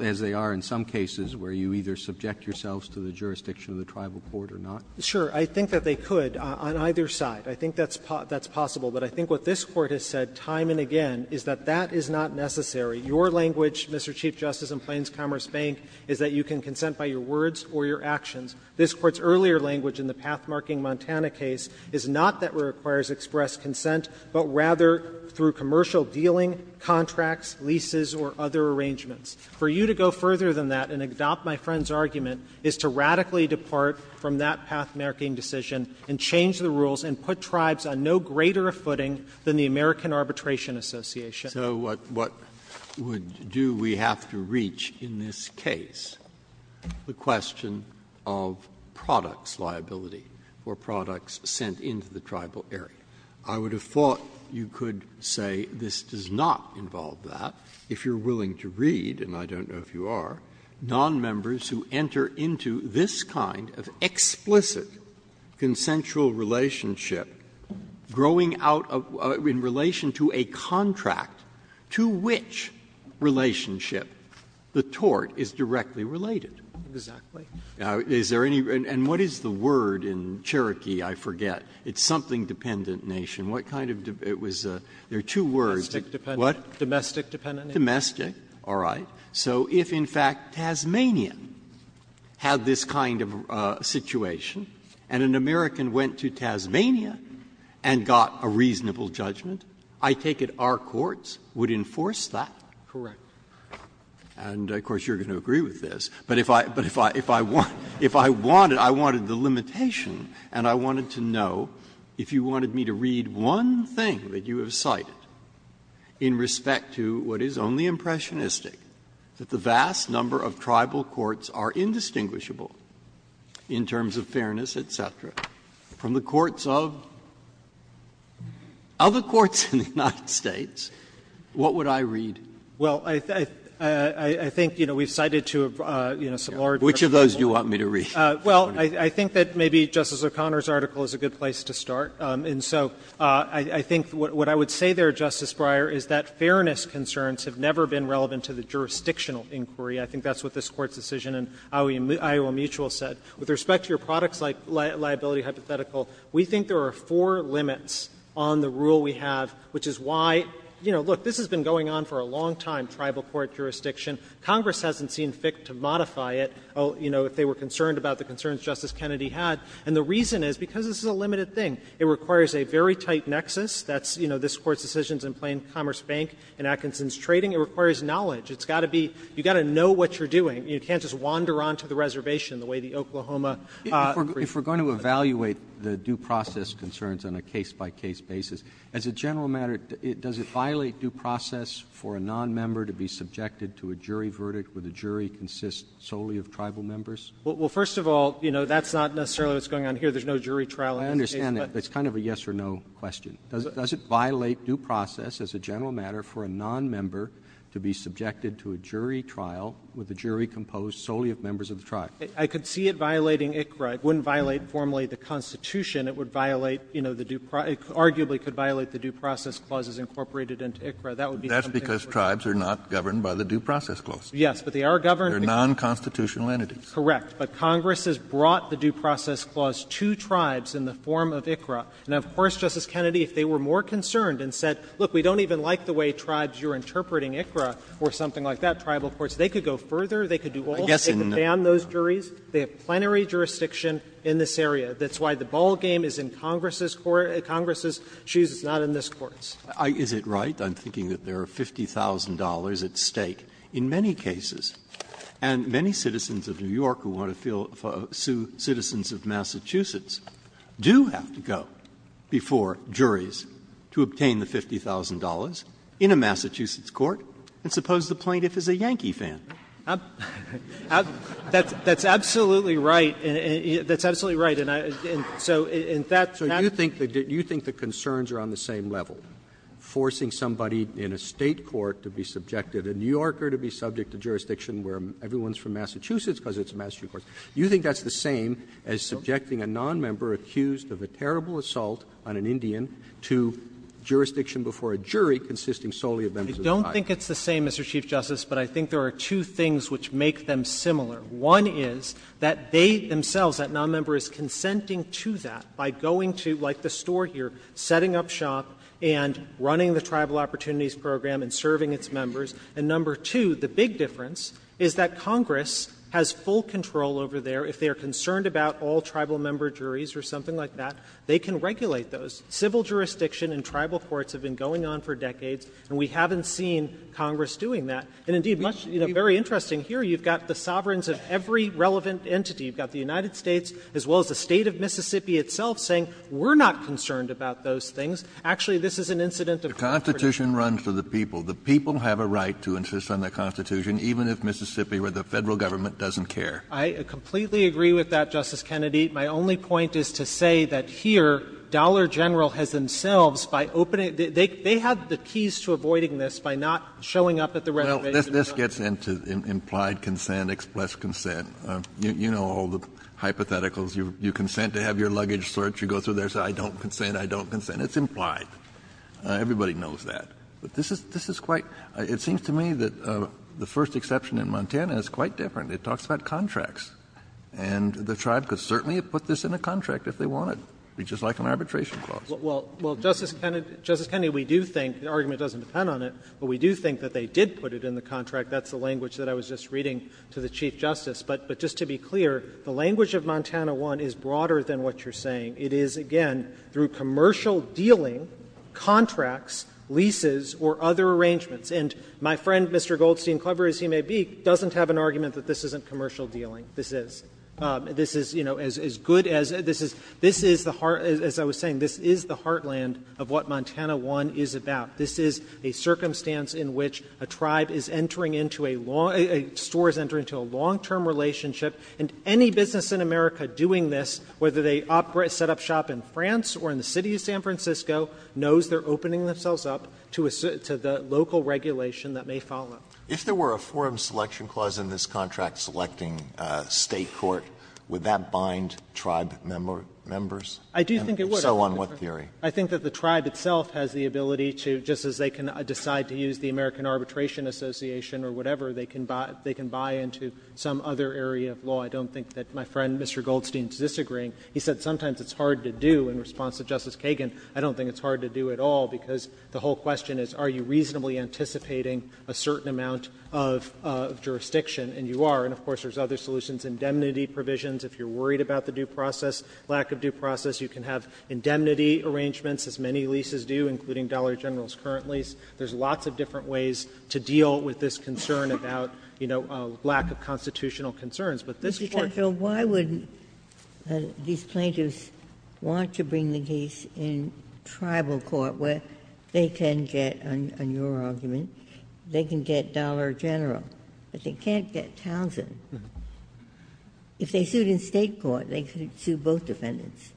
as they are in some cases where you either subject yourselves to the jurisdiction of the tribal court or not? Sure. I think that they could on either side. I think that's possible. But I think what this Court has said time and again is that that is not necessary. Your language, Mr. Chief Justice, in Plains Commerce Bank is that you can consent by your words or your actions. This Court's earlier language in the path-marking Montana case is not that it requires express consent, but rather through commercial dealing, contracts, leases, or other arrangements. For you to go further than that and adopt my friend's argument is to radically depart from that path-marking decision and change the rules and put tribes on no greater a footing than the American Arbitration Association. So what would do we have to reach in this case? The question of products liability or products sent into the tribal area. I would have thought you could say this does not involve that. If you're willing to read, and I don't know if you are, nonmembers who enter into this kind of explicit consensual relationship, growing out in relation to a contract to which relationship the tort is directly related. Exactly. Is there any other? And what is the word in Cherokee, I forget, it's something dependent nation. What kind of dependent? There are two words. Domestic dependent. Domestic. All right. So if, in fact, Tasmania had this kind of situation, and an American went to Tasmania and got a reasonable judgment, I take it our courts would enforce that? Correct. And of course you're going to agree with this. But if I wanted, I wanted the limitation, and I wanted to know if you wanted me to read one thing that you have cited in respect to what is only impressionistic, that the vast number of tribal courts are indistinguishable in terms of fairness, et cetera, from the courts of other courts in the United States, what would I read? Well, I think, you know, we've cited to a, you know, some lawyer. Which of those do you want me to read? Well, I think that maybe Justice O'Connor's article is a good place to start. And so I think what I would say there, Justice Breyer, is that fairness concerns have never been relevant to the jurisdictional inquiry. I think that's what this Court's decision in Iowa Mutual said. With respect to your products-like liability hypothetical, we think there are four limits on the rule we have, which is why, you know, look, this has been going on for a long time, tribal court jurisdiction. Congress hasn't seen fit to modify it, you know, if they were concerned about the concerns Justice Kennedy had. And the reason is because this is a limited thing. It requires a very tight nexus. That's, you know, this Court's decisions in Plain Commerce Bank and Atkinson's trading. It requires knowledge. It's got to be you've got to know what you're doing. You can't just wander on to the reservation the way the Oklahoma brief did. Roberts, if we're going to evaluate the due process concerns on a case-by-case basis, as a general matter, does it violate due process for a nonmember to be subjected to a jury verdict where the jury consists solely of tribal members? Well, first of all, you know, that's not necessarily what's going on here. There's no jury trial on this case. Roberts, it's kind of a yes-or-no question. Does it violate due process as a general matter for a nonmember to be subjected to a jury trial where the jury composed solely of members of the tribe? I could see it violating ICRA. It wouldn't violate formally the Constitution. It would violate, you know, the due process. It arguably could violate the due process clauses incorporated into ICRA. That would be something we're talking about. That's because tribes are not governed by the due process clause. Yes, but they are governed because they're nonconstitutional entities. Correct. But Congress has brought the due process clause to tribes in the form of ICRA. And of course, Justice Kennedy, if they were more concerned and said, look, we don't even like the way tribes, you're interpreting ICRA or something like that, tribal courts, they could go further. They could do all of it. They could ban those juries. They have plenary jurisdiction in this area. That's why the ballgame is in Congress's court – Congress's shoes. It's not in this Court's. Is it right? I'm thinking that there are $50,000 at stake in many cases. And many citizens of New York who want to feel – sue citizens of Massachusetts do have to go before juries to obtain the $50,000 in a Massachusetts court and suppose the plaintiff is a Yankee fan. That's absolutely right. That's absolutely right. And so in that – So you think the concerns are on the same level, forcing somebody in a State court to be subjected, a New Yorker to be subject to jurisdiction where everyone is from Massachusetts because it's a Massachusetts court. You think that's the same as subjecting a nonmember accused of a terrible assault on an Indian to jurisdiction before a jury consisting solely of members of the tribe? I don't think it's the same, Mr. Chief Justice, but I think there are two things which make them similar. One is that they themselves, that nonmember, is consenting to that by going to, like the store here, setting up shop and running the Tribal Opportunities Program and serving its members. And number two, the big difference is that Congress has full control over there. If they are concerned about all Tribal member juries or something like that, they can regulate those. Civil jurisdiction and Tribal courts have been going on for decades, and we haven't seen Congress doing that. And indeed, much – you know, very interesting, here you've got the sovereigns of every relevant entity. You've got the United States as well as the State of Mississippi itself saying we're not concerned about those things. Actually, this is an incident of – Kennedy. The Constitution runs for the people. The people have a right to insist on the Constitution, even if Mississippi or the Federal government doesn't care. I completely agree with that, Justice Kennedy. My only point is to say that here Dollar General has themselves, by opening – they have the keys to avoiding this by not showing up at the renovations. No. This gets into implied consent, expressed consent. You know all the hypotheticals. You consent to have your luggage searched. You go through their, say, I don't consent, I don't consent. It's implied. Everybody knows that. But this is quite – it seems to me that the first exception in Montana is quite different. It talks about contracts. And the tribe could certainly have put this in a contract if they wanted, just like an arbitration clause. Well, Justice Kennedy, we do think – the argument doesn't depend on it, but we do think that they did put it in the contract. That's the language that I was just reading to the Chief Justice. But just to be clear, the language of Montana 1 is broader than what you're saying. It is, again, through commercial dealing, contracts, leases, or other arrangements. And my friend, Mr. Goldstein, clever as he may be, doesn't have an argument that this isn't commercial dealing. This is. This is, you know, as good as – this is – this is the heart – as I was saying, this is the heartland of what Montana 1 is about. This is a circumstance in which a tribe is entering into a long – a store is entering into a long-term relationship, and any business in America doing this, whether they set up shop in France or in the city of San Francisco, knows they're opening themselves up to the local regulation that may follow. If there were a forum selection clause in this contract selecting State court, would that bind tribe members? I do think it would. And so on what theory? I think that the tribe itself has the ability to, just as they can decide to use the American Arbitration Association or whatever, they can buy into some other area of law. I don't think that my friend, Mr. Goldstein, is disagreeing. He said sometimes it's hard to do in response to Justice Kagan. I don't think it's hard to do at all, because the whole question is are you reasonably anticipating a certain amount of jurisdiction, and you are. And of course, there's other solutions, indemnity provisions. If you're worried about the due process, lack of due process, you can have indemnity arrangements, as many leases do, including Dollar General's current lease. There's lots of different ways to deal with this concern about, you know, lack of constitutional concerns. But this Court – Ginsburg. These plaintiffs want to bring the case in tribal court, where they can get, on your argument, they can get Dollar General, but they can't get Townsend. If they sued in State court, they could sue both defendants.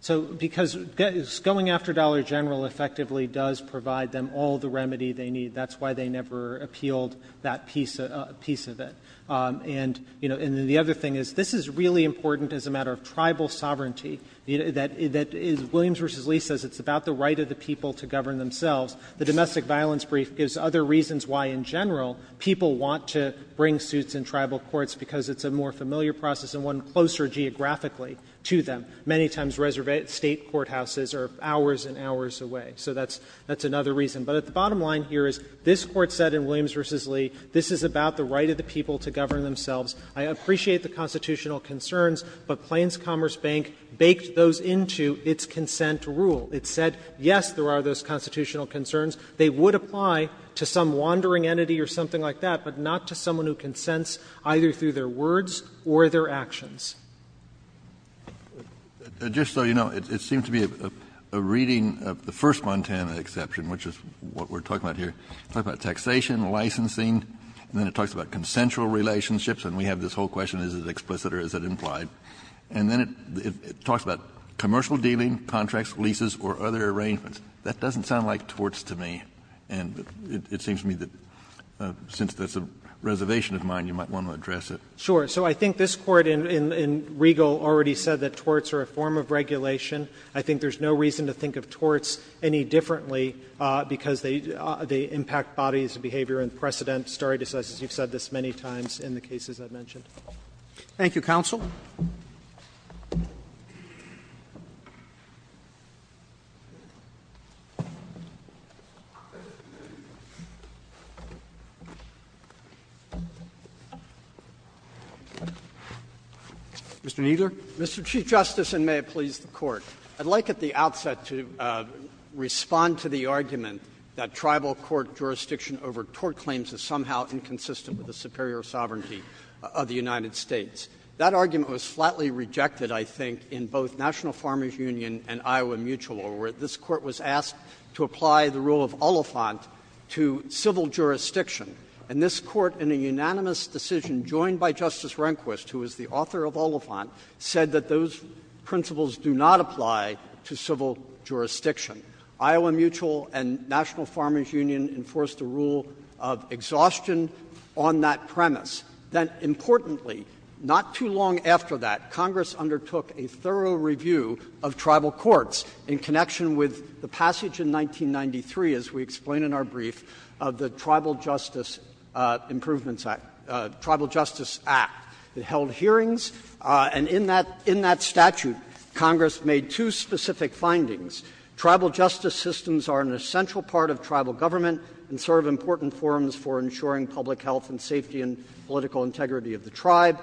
So because going after Dollar General effectively does provide them all the remedy they need. That's why they never appealed that piece of it. And, you know, and the other thing is, this is really important as a matter of tribal sovereignty. That is, Williams v. Lee says it's about the right of the people to govern themselves. The domestic violence brief gives other reasons why, in general, people want to bring suits in tribal courts, because it's a more familiar process and one closer geographically to them. Many times, State courthouses are hours and hours away. So that's another reason. But at the bottom line here is, this Court said in Williams v. Lee, this is about the right of the people to govern themselves. I appreciate the constitutional concerns, but Plains Commerce Bank baked those into its consent rule. It said, yes, there are those constitutional concerns. They would apply to some wandering entity or something like that, but not to someone who consents either through their words or their actions. Kennedy. Kennedy. Just so you know, it seems to be a reading of the first Montana exception, which is what we're talking about here. It talks about taxation, licensing, and then it talks about consensual relationships. And we have this whole question, is it explicit or is it implied? And then it talks about commercial dealing, contracts, leases, or other arrangements. That doesn't sound like torts to me. And it seems to me that, since that's a reservation of mine, you might want to address it. Sure. So I think this Court in Regal already said that torts are a form of regulation. I think there's no reason to think of torts any differently because they impact bodies of behavior and precedent. Stare decisis, you've said this many times in the cases I've mentioned. Thank you, counsel. Mr. Kneedler. I'd like at the outset to respond to the argument that tribal court jurisdiction over tort claims is somehow inconsistent with the superior sovereignty of the United States. That argument was flatly rejected, I think, in both National Farmers Union and Iowa Mutual, where this Court was asked to apply the rule of Oliphant to civil jurisdiction. And this Court, in a unanimous decision joined by Justice Rehnquist, who is the author of Oliphant, said that those principles do not apply to civil jurisdiction. Iowa Mutual and National Farmers Union enforced the rule of exhaustion on that premise. Then, importantly, not too long after that, Congress undertook a thorough review of tribal courts in connection with the passage in 1993, as we explain in our brief, of the Tribal Justice Improvements Act, Tribal Justice Act. It held hearings, and in that statute, Congress made two specific findings. Tribal justice systems are an essential part of tribal government and serve important forms for ensuring public health and safety and political integrity of the tribe.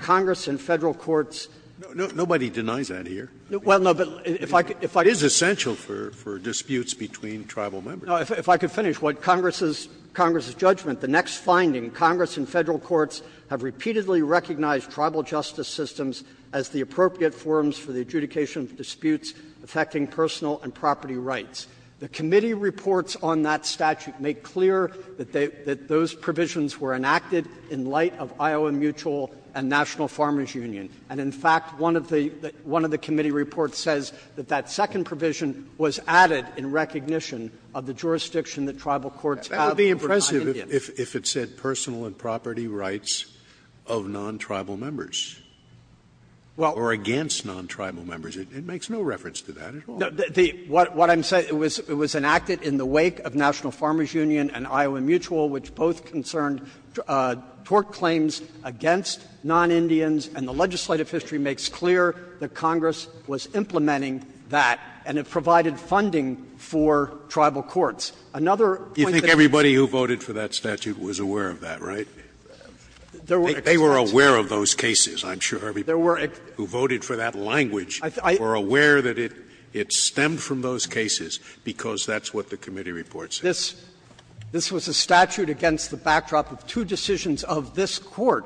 Congress in Federal courts — Nobody denies that here. Well, no, but if I could — It is essential for disputes between tribal members. No, if I could finish. What Congress's — Congress's judgment, the next finding, Congress in Federal courts have repeatedly recognized tribal justice systems as the appropriate forms for the adjudication of disputes affecting personal and property rights. The committee reports on that statute make clear that they — that those provisions were enacted in light of Iowa Mutual and National Farmers Union. And in fact, one of the — one of the committee reports says that that second provision was added in recognition of the jurisdiction that tribal courts have over non-Indians. That would be impressive if it said personal and property rights of non-tribal members or against non-tribal members. It makes no reference to that at all. No. The — what I'm saying, it was enacted in the wake of National Farmers Union and Iowa Mutual, which both concerned tort claims against non-Indians, and the legislative history makes clear that Congress was implementing that, and it provided funding for tribal courts. Another point that it's — Scalia, you think everybody who voted for that statute was aware of that, right? They were aware of those cases, I'm sure. There were — Who voted for that language were aware that it — it stemmed from those cases, because that's what the committee reports say. This — this was a statute against the backdrop of two decisions of this Court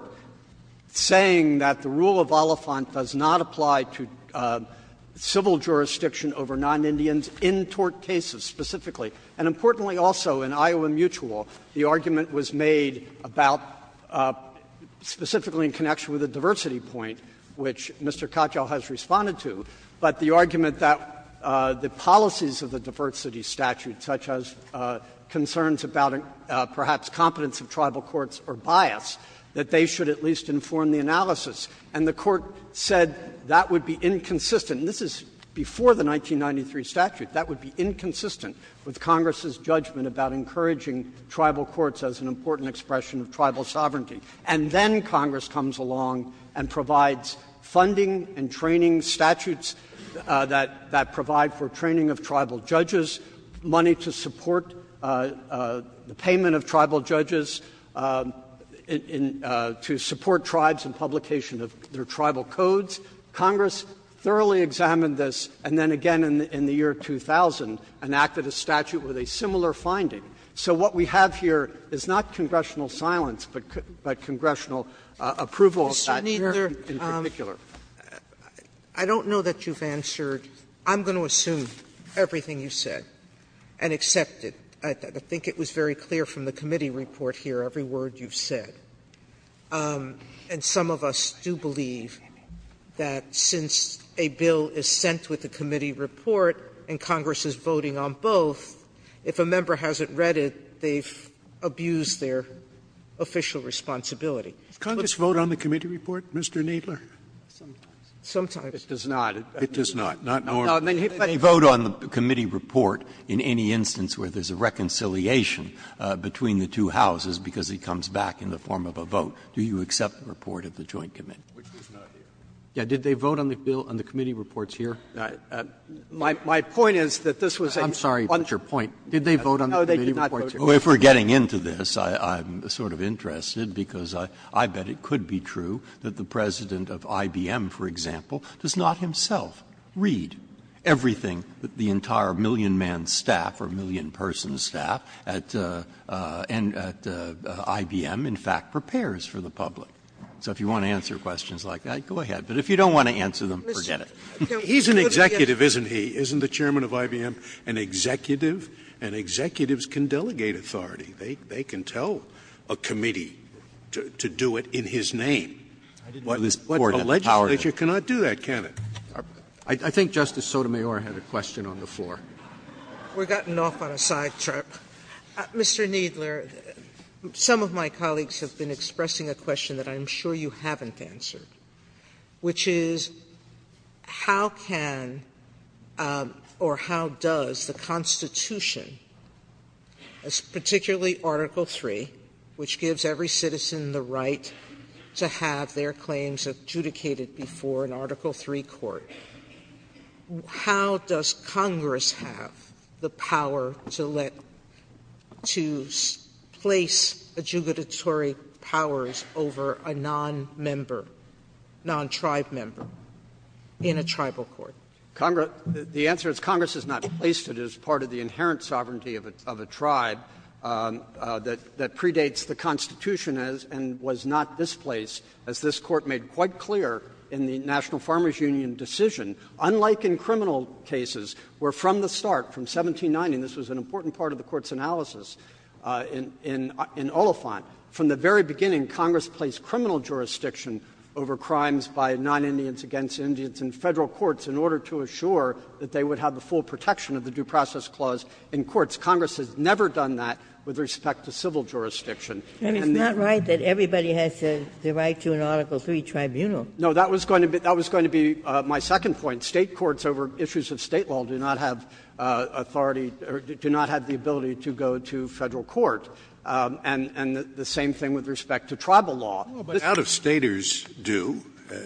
saying that the rule of Oliphant does not apply to civil jurisdiction over non-Indians in tort cases specifically. And importantly also in Iowa Mutual, the argument was made about — specifically in connection with the diversity point, which Mr. Katyal has responded to, but the argument that the policies of the diversity statute, such as concerns about perhaps competence of tribal courts or bias, that they should at least inform the analysis of tribal courts. And the Court said that would be inconsistent — and this is before the 1993 statute — that would be inconsistent with Congress's judgment about encouraging tribal courts as an important expression of tribal sovereignty. And then Congress comes along and provides funding and training statutes that — that provide for training of tribal judges, money to support the payment of tribal judges in — to support tribes in publication of their tribal codes. Congress thoroughly examined this, and then again in the year 2000 enacted a statute with a similar finding. So what we have here is not congressional silence, but congressional approval of that here in particular. Sotomayor, I don't know that you've answered. I'm going to assume everything you said and accept it. I think it was very clear from the committee report here, every word you've said. And some of us do believe that since a bill is sent with the committee report and Congress is voting on both, if a member hasn't read it, they've abused their official responsibility. Scalia, Congress vote on the committee report, Mr. Kneedler? Kneedler, sometimes. Scalia, it does not. It does not. Breyer, they vote on the committee report in any instance where there's a reconciliation between the two houses because it comes back in the form of a vote. Do you accept the report of the joint committee? Kneedler, which is not here. Kneedler, did they vote on the committee reports here? Kneedler, my point is that this was a puncher point. Breyer, I'm sorry. Did they vote on the committee reports here? Kneedler, no, they did not vote here. Breyer, if we're getting into this, I'm sort of interested, because I bet it could be true that the President of IBM, for example, does not himself read everything that the entire million-man staff or million-person staff at IBM, in fact, prepares for the public. So if you want to answer questions like that, go ahead. But if you don't want to answer them, forget it. Scalia, he's an executive, isn't he? Isn't the chairman of IBM an executive? And executives can delegate authority. They can tell a committee to do it in his name. A legislature cannot do that, can it? I think Justice Sotomayor had a question on the floor. Sotomayor, we've gotten off on a sidetrack. Mr. Kneedler, some of my colleagues have been expressing a question that I'm sure you haven't answered, which is how can or how does the Constitution, particularly Article III, which gives every citizen the right to have their claims adjudicated before an Article III court, how does Congress have the power to let to place adjudicatory powers over a nonmember, non-tribe member in a tribal court? Kneedler, the answer is Congress has not placed it as part of the inherent sovereignty of a tribe that predates the Constitution and was not displaced, as this Court made quite clear in the National Farmers Union decision. Unlike in criminal cases, where from the start, from 1790, and this was an important part of the Court's analysis in Oliphant, from the very beginning, Congress placed criminal jurisdiction over crimes by non-Indians against Indians in Federal courts in order to assure that they would have the full protection of the due process clause in courts. Congress has never done that with respect to civil jurisdiction. And the other one was that it's not right that everybody has the right to an Article III tribunal. Kneedler, no, that was going to be my second point. State courts over issues of State law do not have authority or do not have the ability to go to Federal court, and the same thing with respect to tribal law. Scalia, but out-of-Staters do,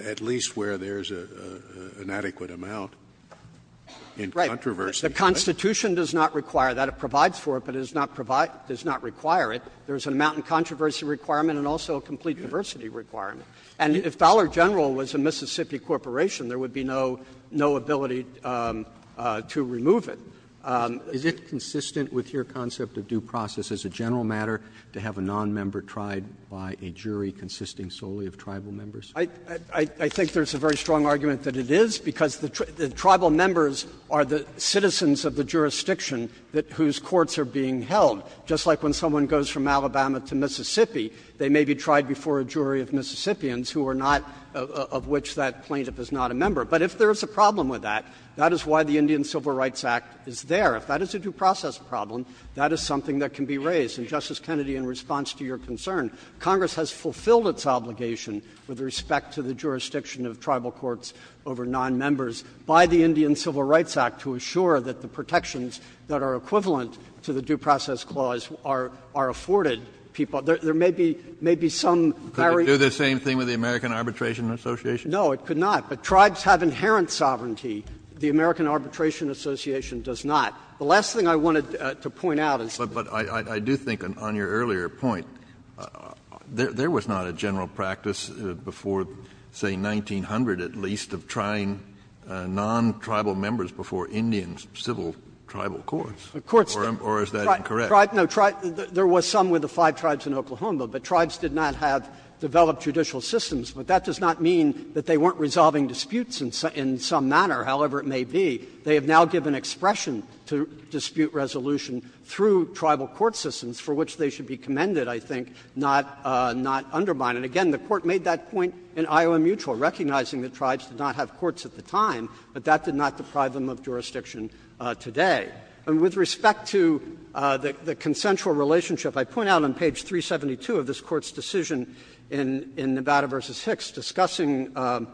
at least where there's an adequate amount in controversy. Kneedler, the Constitution does not require that. It provides for it, but it does not require it. There's an amount in controversy requirement and also a complete diversity requirement. And if Dollar General was a Mississippi corporation, there would be no ability to remove it. Roberts, is it consistent with your concept of due process as a general matter to have a nonmember tried by a jury consisting solely of tribal members? Kneedler, I think there's a very strong argument that it is, because the tribal members are the citizens of the jurisdiction whose courts are being held. Just like when someone goes from Alabama to Mississippi, they may be tried before a jury of Mississippians who are not of which that plaintiff is not a member. But if there is a problem with that, that is why the Indian Civil Rights Act is there. If that is a due process problem, that is something that can be raised. And, Justice Kennedy, in response to your concern, Congress has fulfilled its obligation with respect to the jurisdiction of tribal courts over nonmembers by the Indian Civil Rights Act to assure that the protections that are equivalent to the due process clause are afforded people. There may be some very — Could it do the same thing with the American Arbitration Association? No, it could not. But tribes have inherent sovereignty. The American Arbitration Association does not. The last thing I wanted to point out is — Kennedy, but I do think on your earlier point, there was not a general practice before, say, 1900 at least of trying non-tribal members before Indian civil tribal courts. Or is that incorrect? No, there was some with the five tribes in Oklahoma, but tribes did not have developed judicial systems. But that does not mean that they weren't resolving disputes in some manner, however it may be. They have now given expression to dispute resolution through tribal court systems, for which they should be commended, I think, not undermined. And again, the Court made that point in Iowa Mutual, recognizing that tribes did not have courts at the time, but that did not deprive them of jurisdiction today. And with respect to the consensual relationship, I point out on page 372 of this Court's decision in Nevada v. Hicks discussing the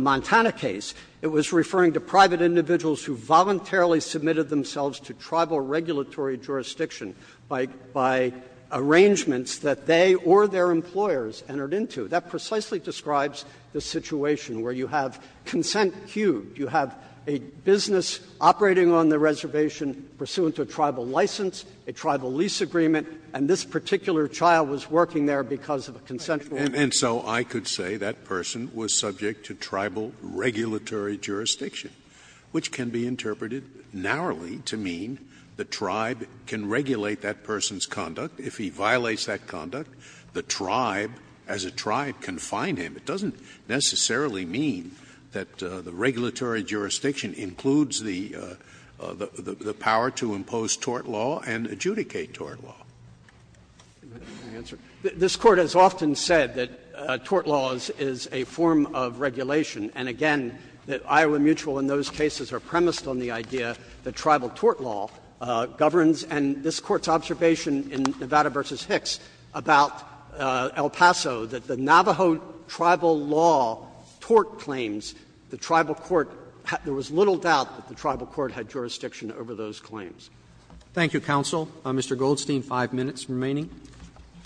Montana case, it was referring to private individuals who voluntarily submitted themselves to tribal regulatory jurisdiction by — by arrangements that they or their employers entered into. That precisely describes the situation where you have consent queued, you have a business operating on the reservation pursuant to a tribal license, a tribal lease agreement, and this particular child was working there because of a consensual agreement. And so I could say that person was subject to tribal regulatory jurisdiction, which can be interpreted narrowly to mean the tribe can regulate that person's conduct. If he violates that conduct, the tribe, as a tribe, can fine him. It doesn't necessarily mean that the regulatory jurisdiction includes the — the power to impose tort law and adjudicate tort law. This Court has often said that tort law is a form of regulation, and again, that Iowa Mutual in those cases are premised on the idea that tribal tort law governs and this Court's observation in Nevada v. Hicks about El Paso, that the Navajo tribal law tort claims, the tribal court — there was little doubt that the tribal court had jurisdiction over those claims. Roberts Thank you, counsel. Mr. Goldstein, five minutes remaining.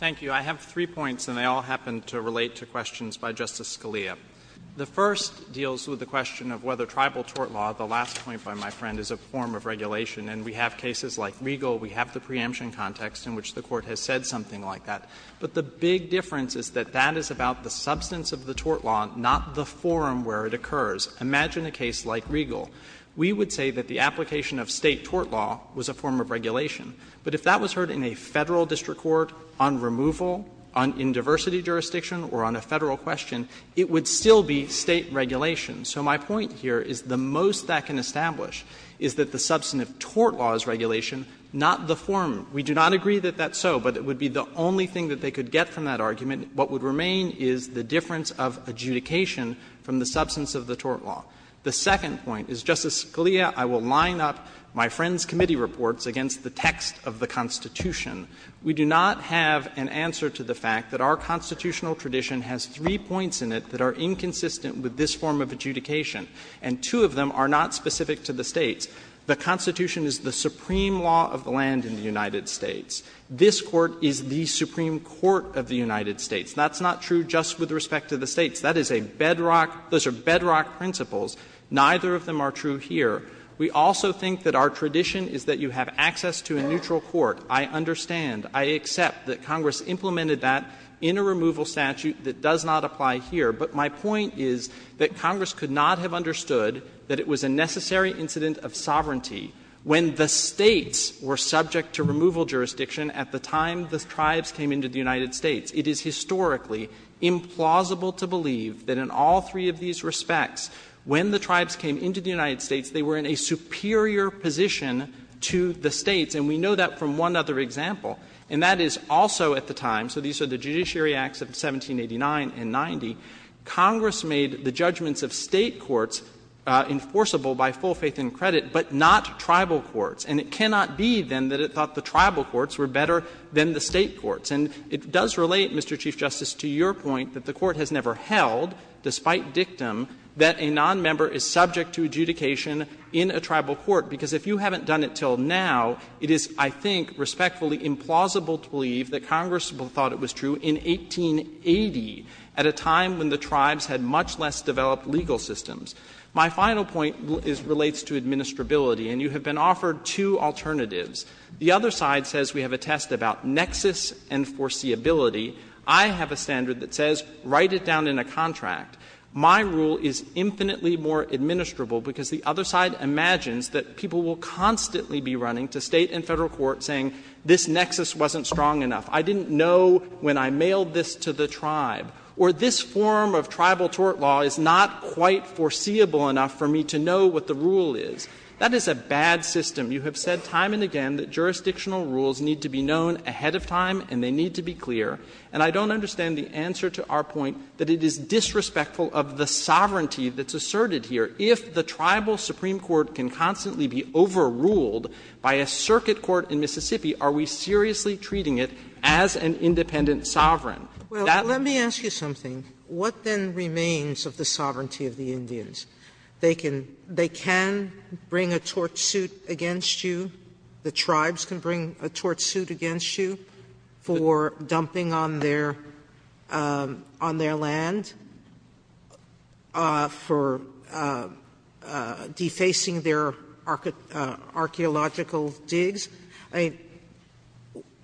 Goldstein, I have three points, and they all happen to relate to questions by Justice Scalia. The first deals with the question of whether tribal tort law, the last point by my friend, is a form of regulation. And we have cases like Regal, we have the preemption context in which the Court has said something like that. But the big difference is that that is about the substance of the tort law, not the forum where it occurs. Imagine a case like Regal. We would say that the application of State tort law was a form of regulation. But if that was heard in a Federal district court on removal, on in diversity jurisdiction, or on a Federal question, it would still be State regulation. So my point here is the most that can establish is that the substance of tort law is regulation, not the forum. We do not agree that that's so, but it would be the only thing that they could get from that argument. What would remain is the difference of adjudication from the substance of the tort law. The second point is, Justice Scalia, I will line up my friend's committee reports against the text of the Constitution. We do not have an answer to the fact that our constitutional tradition has three points in it that are inconsistent with this form of adjudication, and two of them are not specific to the States. The Constitution is the supreme law of the land in the United States. This Court is the supreme court of the United States. That's not true just with respect to the States. That is a bedrock — those are bedrock principles. Neither of them are true here. We also think that our tradition is that you have access to a neutral court. I understand. I accept that Congress implemented that in a removal statute that does not apply here, but my point is that Congress could not have understood that it was a necessary incident of sovereignty when the States were subject to removal jurisdiction at the time the tribes came into the United States. It is historically implausible to believe that in all three of these respects, when the tribes came into the United States, they were in a superior position to the States, and we know that from one other example, and that is also at the time — so these are the Judiciary Acts of 1789 and 90 — Congress made the judgments of State courts enforceable by full faith and credit, but not tribal courts. And it cannot be, then, that it thought the tribal courts were better than the State courts. And it does relate, Mr. Chief Justice, to your point that the Court has never held, despite dictum, that a nonmember is subject to adjudication in a tribal court, because if you haven't done it until now, it is, I think, respectfully implausible to believe that Congress thought it was true in 1880, at a time when the tribes had much less developed legal systems. My final point is — relates to administrability, and you have been offered two alternatives. The other side says we have a test about nexus and foreseeability. I have a standard that says write it down in a contract. My rule is infinitely more administrable, because the other side imagines that people will constantly be running to State and Federal court saying, this nexus wasn't strong enough, I didn't know when I mailed this to the tribe, or this form of tribal tort law is not quite foreseeable enough for me to know what the rule is. That is a bad system. You have said time and again that jurisdictional rules need to be known ahead of time and they need to be clear. And I don't understand the answer to our point that it is disrespectful of the sovereignty that's asserted here. If the tribal supreme court can constantly be overruled by a circuit court in Mississippi, are we seriously treating it as an independent sovereign? That's the question. Sotomayor, let me ask you something. What then remains of the sovereignty of the Indians? They can bring a tort suit against you, the tribes can bring a tort suit against you for dumping on their land, for defacing their archaeological digs. I mean,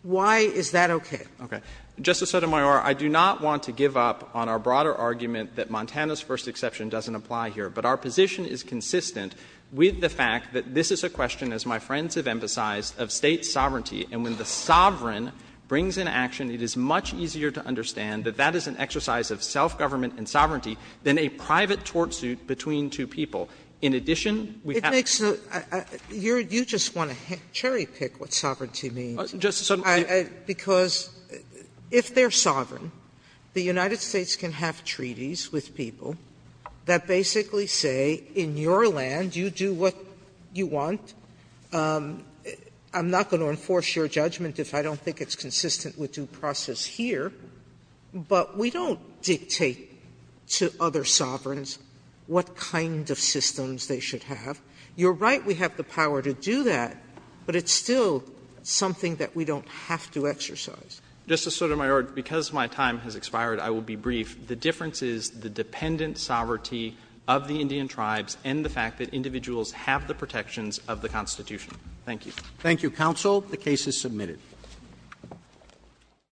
why is that okay? Okay. Justice Sotomayor, I do not want to give up on our broader argument that Montana's first exception doesn't apply here, but our position is consistent with the fact that this is a question, as my friends have emphasized, of State sovereignty. And when the sovereign brings an action, it is much easier to understand that that is an exercise of self-government and sovereignty than a private tort suit between two people. In addition, we have to be clear that the sovereignty of the Indians is not an independent sovereign. That basically say, in your land, you do what you want. I'm not going to enforce your judgment if I don't think it's consistent with due process here. But we don't dictate to other sovereigns what kind of systems they should have. You're right, we have the power to do that, but it's still something that we don't have to exercise. Justice Sotomayor, because my time has expired, I will be brief. The difference is the dependent sovereignty of the Indian tribes and the fact that individuals have the protections of the Constitution. Thank you. Roberts. Thank you, counsel. The case is submitted.